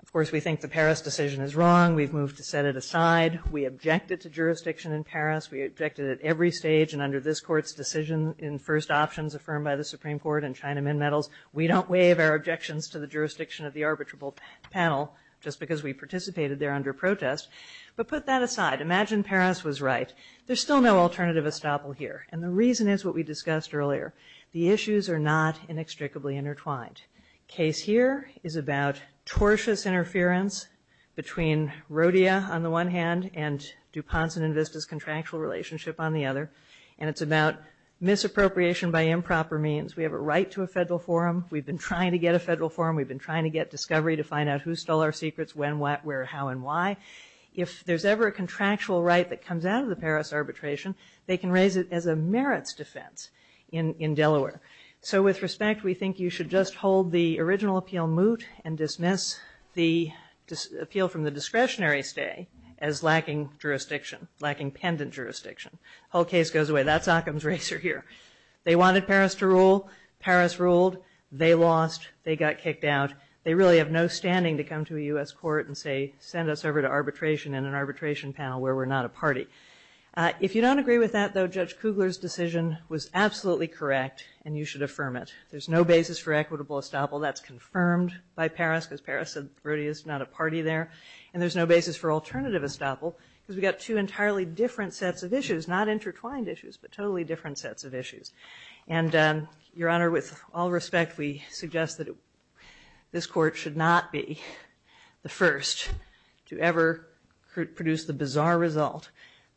Of course, we think the Paris decision is wrong. We've moved to set it aside. We objected to jurisdiction in Paris. We objected at every stage, and under this Court's decision in first options affirmed by the Supreme Court and China Min Medals, we don't waive our objections to the jurisdiction of the arbitrable panel just because we participated there under protest. But put that aside. Imagine Paris was right. There's still no alternative estoppel here, and the reason is what we discussed earlier. The issues are not inextricably intertwined. The case here is about tortious interference between Rodea on the one hand and Dupont and INVISTA's contractual relationship on the other, and it's about misappropriation by improper means. We have a right to a federal forum. We've been trying to get a federal forum. We've been trying to get discovery to find out who stole our secrets, when, what, where, how, and why. If there's ever a contractual right that comes out of the Paris arbitration, they can raise it as a merits defense in Delaware. So with respect, we think you should just hold the original appeal moot and dismiss the appeal from the discretionary stay as lacking jurisdiction, lacking pendant jurisdiction. The whole case goes away. That's Occam's Razor here. They wanted Paris to rule. Paris ruled. They lost. They got kicked out. They really have no standing to come to a U.S. court and, say, send us over to arbitration in an arbitration panel where we're not a party. If you don't agree with that, though, Judge Kugler's decision was absolutely correct, and you should affirm it. There's no basis for equitable estoppel. That's confirmed by Paris, because Paris said Rodea's not a party there, and there's no basis for alternative estoppel because we've got two entirely different sets of issues, not intertwined issues, but totally different sets of issues. And, Your Honor, with all respect, we suggest that this court should not be the first to ever produce the bizarre result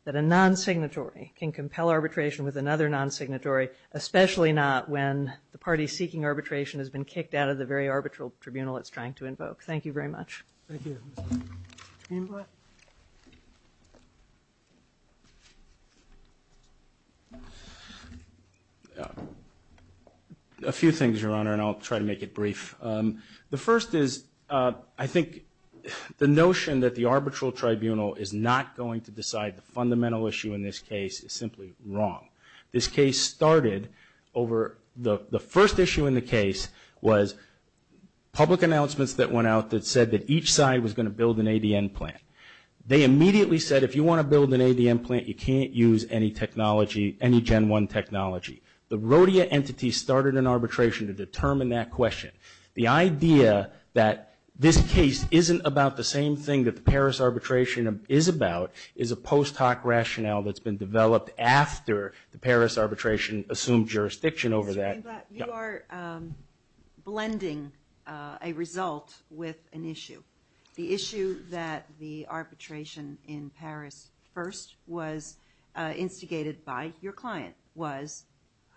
that a non-signatory can compel arbitration with another non-signatory, especially not when the party seeking arbitration has been kicked out of the very arbitral tribunal it's trying to invoke. Thank you very much. Thank you. James West? A few things, Your Honor, and I'll try to make it brief. The first is I think the notion that the arbitral tribunal is not going to decide the fundamental issue in this case is simply wrong. This case started over the first issue in the case was public announcements that went out that said that each side was going to build an ADN plant. They immediately said, if you want to build an ADN plant, you can't use any technology, any Gen 1 technology. The rhodia entity started an arbitration to determine that question. The idea that this case isn't about the same thing that the Paris arbitration is about is a post hoc rationale that's been developed after the Paris arbitration assumed jurisdiction over that. You are blending a result with an issue. The issue that the arbitration in Paris first was instigated by your client was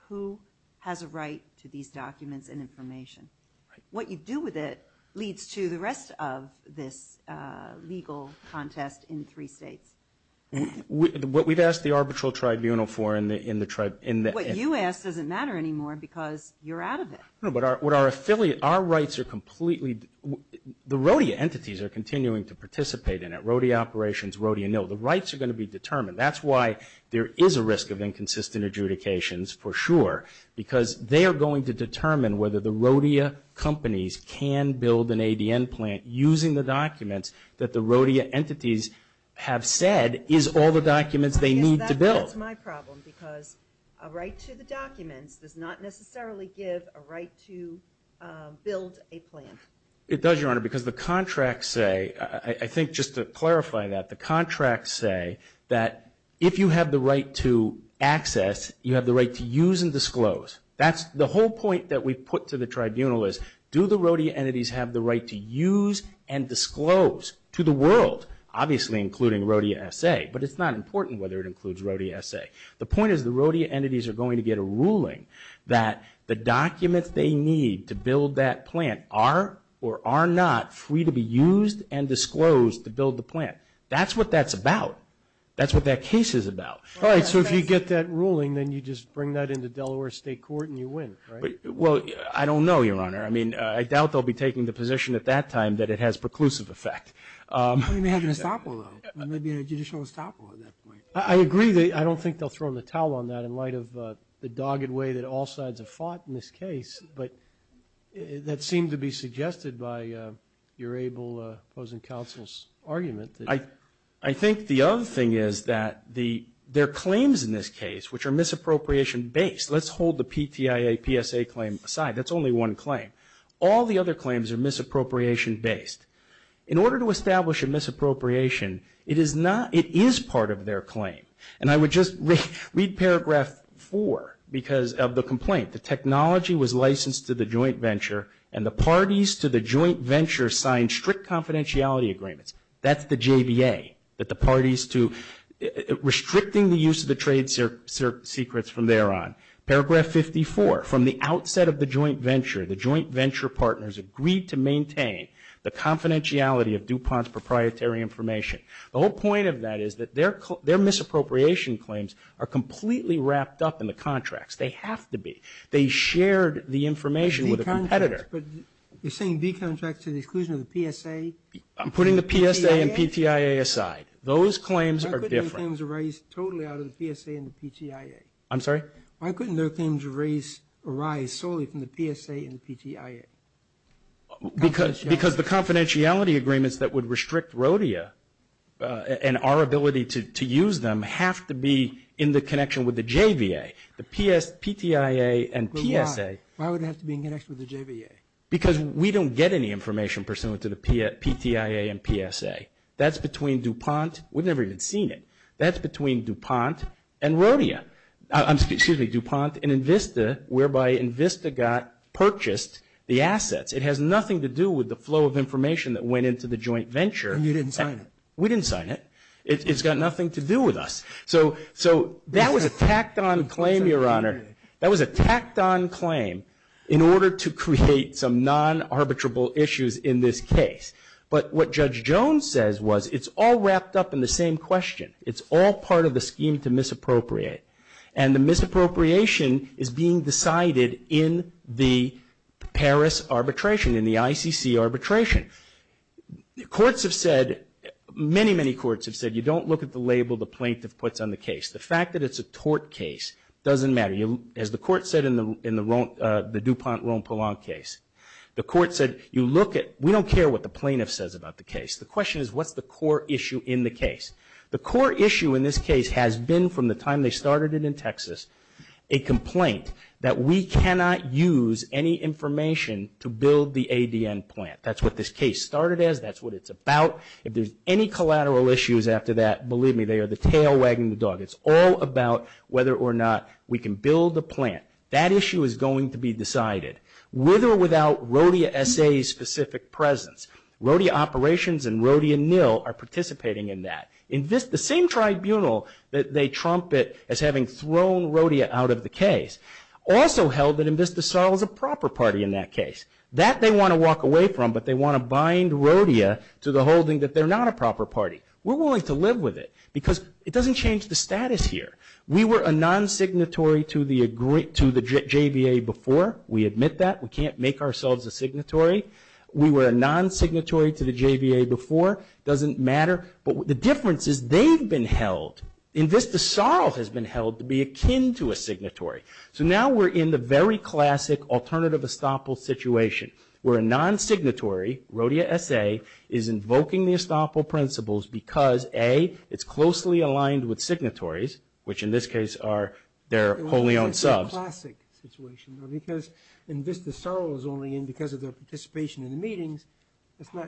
who has a right to these documents and information. What you do with it leads to the rest of this legal contest in the three states. What we've asked the arbitral tribunal for in the... What you ask doesn't matter anymore because you're out of it. No, but our affiliates, our rights are completely... The rhodia entities are continuing to participate in it, rhodia operations, rhodia mill. The rights are going to be determined. That's why there is a risk of inconsistent adjudications for sure because they are going to determine whether the rhodia companies can build an ADN plant using the documents that the rhodia entities have said is all the documents they need to build. That's my problem because a right to the documents does not necessarily give a right to build a plant. It does, Your Honor, because the contracts say... I think just to clarify that, the contracts say that if you have the right to access, you have the right to use and disclose. That's the whole point that we put to the tribunal is do the rhodia entities have the right to use and disclose to the world, obviously including rhodia SA, but it's not important whether it includes rhodia SA. The point is the rhodia entities are going to get a ruling that the documents they need to build that plant are or are not free to be used and disclosed to build the plant. That's what that's about. That's what that case is about. All right, so if you get that ruling, then you just bring that into Delaware State Court and you win, right? Well, I don't know, Your Honor. I mean, I doubt they'll be taking the position at that time that it has preclusive effect. They may have an estoppel on it. There may be a judicial estoppel at that point. I agree. I don't think they'll throw the towel on that in light of the dogged way that all sides have fought in this case, but that seemed to be suggested by your able closing counsel's argument. I think the other thing is that there are claims in this case which are misappropriation-based. Let's hold the PTIA PSA claim aside. That's only one claim. All the other claims are misappropriation-based. In order to establish a misappropriation, it is part of their claim, and I would just read paragraph 4 of the complaint. The technology was licensed to the joint venture, and the parties to the joint venture signed strict confidentiality agreements. That's the JVA, restricting the use of the trade secrets from there on. Paragraph 54, from the outset of the joint venture, the joint venture partners agreed to maintain the confidentiality of DuPont's proprietary information. The whole point of that is that their misappropriation claims are completely wrapped up in the contracts. They have to be. They shared the information with a competitor. You're saying B contracts are the exclusion of the PSA? I'm putting the PSA and PTIA aside. Those claims are different. Why couldn't those claims arise totally out of the PSA and the PTIA? I'm sorry? Why couldn't those claims arise solely from the PSA and the PTIA? Because the confidentiality agreements that would restrict Rodea and our ability to use them have to be in the connection with the JVA, the PTIA and PSA. But why? Why would it have to be in connection with the JVA? Because we don't get any information pursuant to the PTIA and PSA. That's between DuPont. We've never even seen it. That's between DuPont and Rodea. Excuse me, DuPont and Invista, whereby Invista got purchased the assets. It has nothing to do with the flow of information that went into the joint venture. You didn't sign it. We didn't sign it. It's got nothing to do with us. So that was a tacked-on claim, Your Honor. That was a tacked-on claim in order to create some non-arbitrable issues in this case. But what Judge Jones says was it's all wrapped up in the same question. It's all part of the scheme to misappropriate. And the misappropriation is being decided in the Paris arbitration, in the ICC arbitration. Courts have said, many, many courts have said, you don't look at the label the plaintiff puts on the case. The fact that it's a tort case doesn't matter. As the court said in the DuPont-Rome-Poulenc case, the court said you look at we don't care what the plaintiff says about the case. The question is what's the core issue in the case. The core issue in this case has been from the time they started it in Texas, a complaint that we cannot use any information to build the ADN plant. That's what this case started as. That's what it's about. If there's any collateral issues after that, believe me, they are the tail wagging the dog. It's all about whether or not we can build the plant. That issue is going to be decided, with or without RODIA SA's specific presence. RODIA Operations and RODIA NIL are participating in that. The same tribunal that they trumpet as having thrown RODIA out of the case also held that INVISTA SARL is a proper party in that case. That they want to walk away from, but they want to bind RODIA to the holding that they're not a proper party. We're willing to live with it because it doesn't change the status here. We were a non-signatory to the JVA before. We admit that. We can't make ourselves a signatory. We were a non-signatory to the JVA before. It doesn't matter. But the difference is they've been held. INVISTA SARL has been held to be akin to a signatory. So now we're in the very classic alternative estoppel situation, where a non-signatory, RODIA SA, is invoking the estoppel principles because, A, it's closely aligned with signatories, which in this case are their wholly owned subs. It's a classic situation, though, because INVISTA SARL is only in because of their participation in the meetings.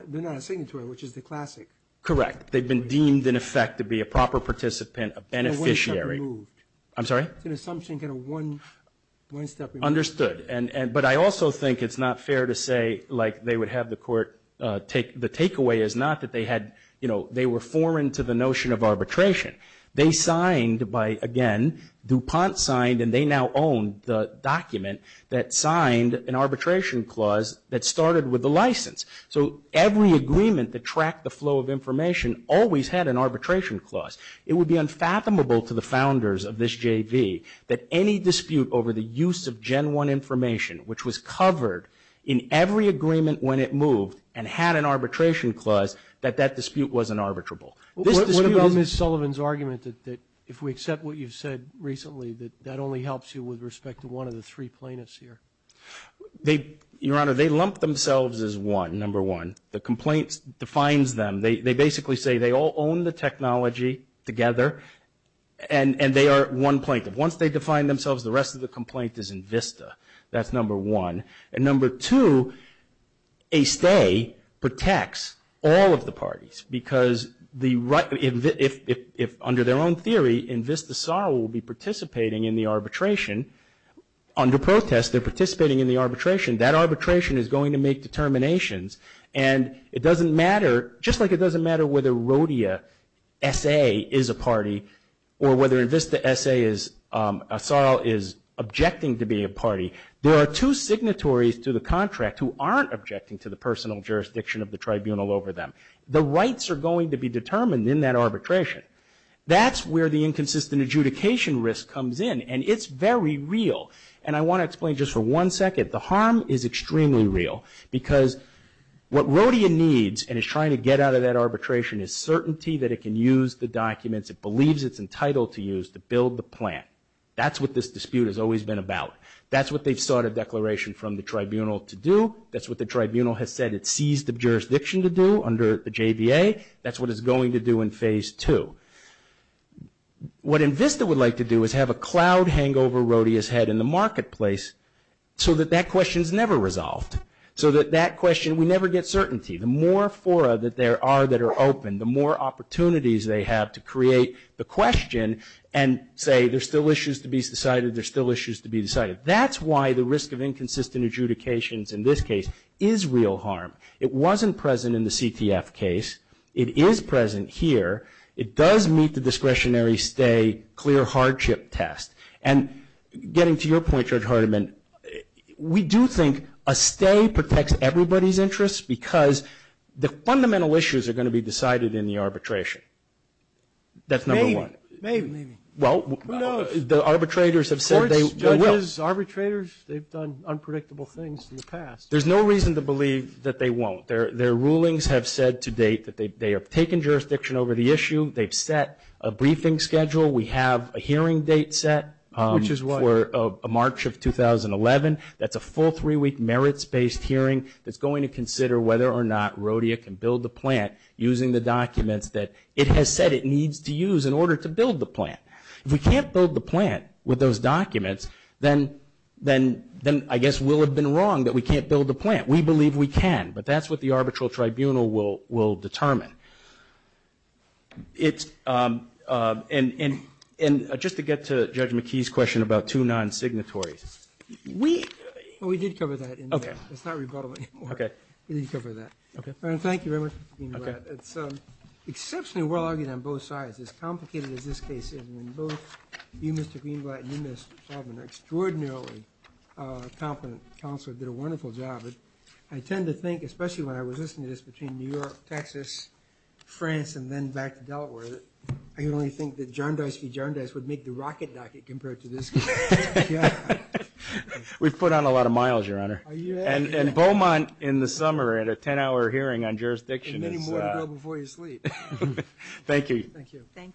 They're not a signatory, which is the classic. Correct. They've been deemed, in effect, to be a proper participant, a beneficiary. One step removed. I'm sorry? It's an assumption, kind of one step removed. Understood. But I also think it's not fair to say, like, they would have the court take. The takeaway is not that they had, you know, they were foreign to the notion of arbitration. They signed by, again, DuPont signed, and they now own the document that signed an arbitration clause that started with the license. So every agreement that tracked the flow of information always had an arbitration clause. It would be unfathomable to the founders of this JV that any dispute over the use of Gen 1 information, which was covered in every agreement when it moved and had an arbitration clause, that that dispute wasn't arbitrable. What about Ms. Sullivan's argument that if we accept what you've said recently that that only helps you with respect to one of the three plaintiffs here? Your Honor, they lump themselves as one, number one. The complaint defines them. They basically say they all own the technology together, and they are one plaintiff. Once they define themselves, the rest of the complaint is in VISTA. That's number one. And number two, a stay protects all of the parties, because if under their own theory, in VISTA SAAW will be participating in the arbitration, under protest they're participating in the arbitration, that arbitration is going to make determinations. And it doesn't matter, just like it doesn't matter whether Rodea S.A. is a party, or whether a VISTA SAAW is objecting to being a party, there are two signatories to the contract who aren't objecting to the personal jurisdiction of the tribunal over them. The rights are going to be determined in that arbitration. That's where the inconsistent adjudication risk comes in, and it's very real. And I want to explain just for one second, the harm is extremely real, because what Rodea needs and is trying to get out of that arbitration is certainty that it can use the documents it believes it's entitled to use to build the plan. That's what this dispute has always been about. That's what they've sought a declaration from the tribunal to do. That's what the tribunal has said it sees the jurisdiction to do under the JBA. That's what it's going to do in phase two. What a VISTA would like to do is have a cloud hangover Rodea has had in the marketplace so that that question is never resolved, so that that question would never get certainty. The more fora that there are that are open, the more opportunities they have to create the question and say there's still issues to be decided, there's still issues to be decided. That's why the risk of inconsistent adjudications in this case is real harm. It wasn't present in the CTF case. It is present here. It does meet the discretionary stay clear hardship test. And getting to your point, Judge Hardiman, we do think a stay protects everybody's interests because the fundamental issues are going to be decided in the arbitration. That's number one. Maybe. Who knows? The arbitrators have said they will. The arbitrators, they've done unpredictable things in the past. There's no reason to believe that they won't. Their rulings have said to date that they have taken jurisdiction over the issue. They've set a briefing schedule. We have a hearing date set. Which is what? For March of 2011. That's a full three-week merits-based hearing that's going to consider whether or not RODIA can build the plant using the documents that it has said it needs to use in order to build the plant. If we can't build the plant with those documents, then I guess we'll have been wrong that we can't build the plant. We believe we can. But that's what the arbitral tribunal will determine. And just to get to Judge McKee's question about two non-signatories. We did cover that. It's not rebuttable anymore. We did cover that. Thank you very much, Mr. Greenblatt. It's exceptionally well-argued on both sides. As complicated as this case is in both, you, Mr. Greenblatt, you have an extraordinarily competent counsel who did a wonderful job. I tend to think, especially when I was listening to this between New York, Texas, France, and then back to Delaware, I only think that John Deist v. John Deist would make the rocket if I could compare it to this case. We've put on a lot of miles, Your Honor. And Beaumont in the summer at a 10-hour hearing on jurisdiction. And many more to go before you sleep. Thank you. Thank you. Thank you.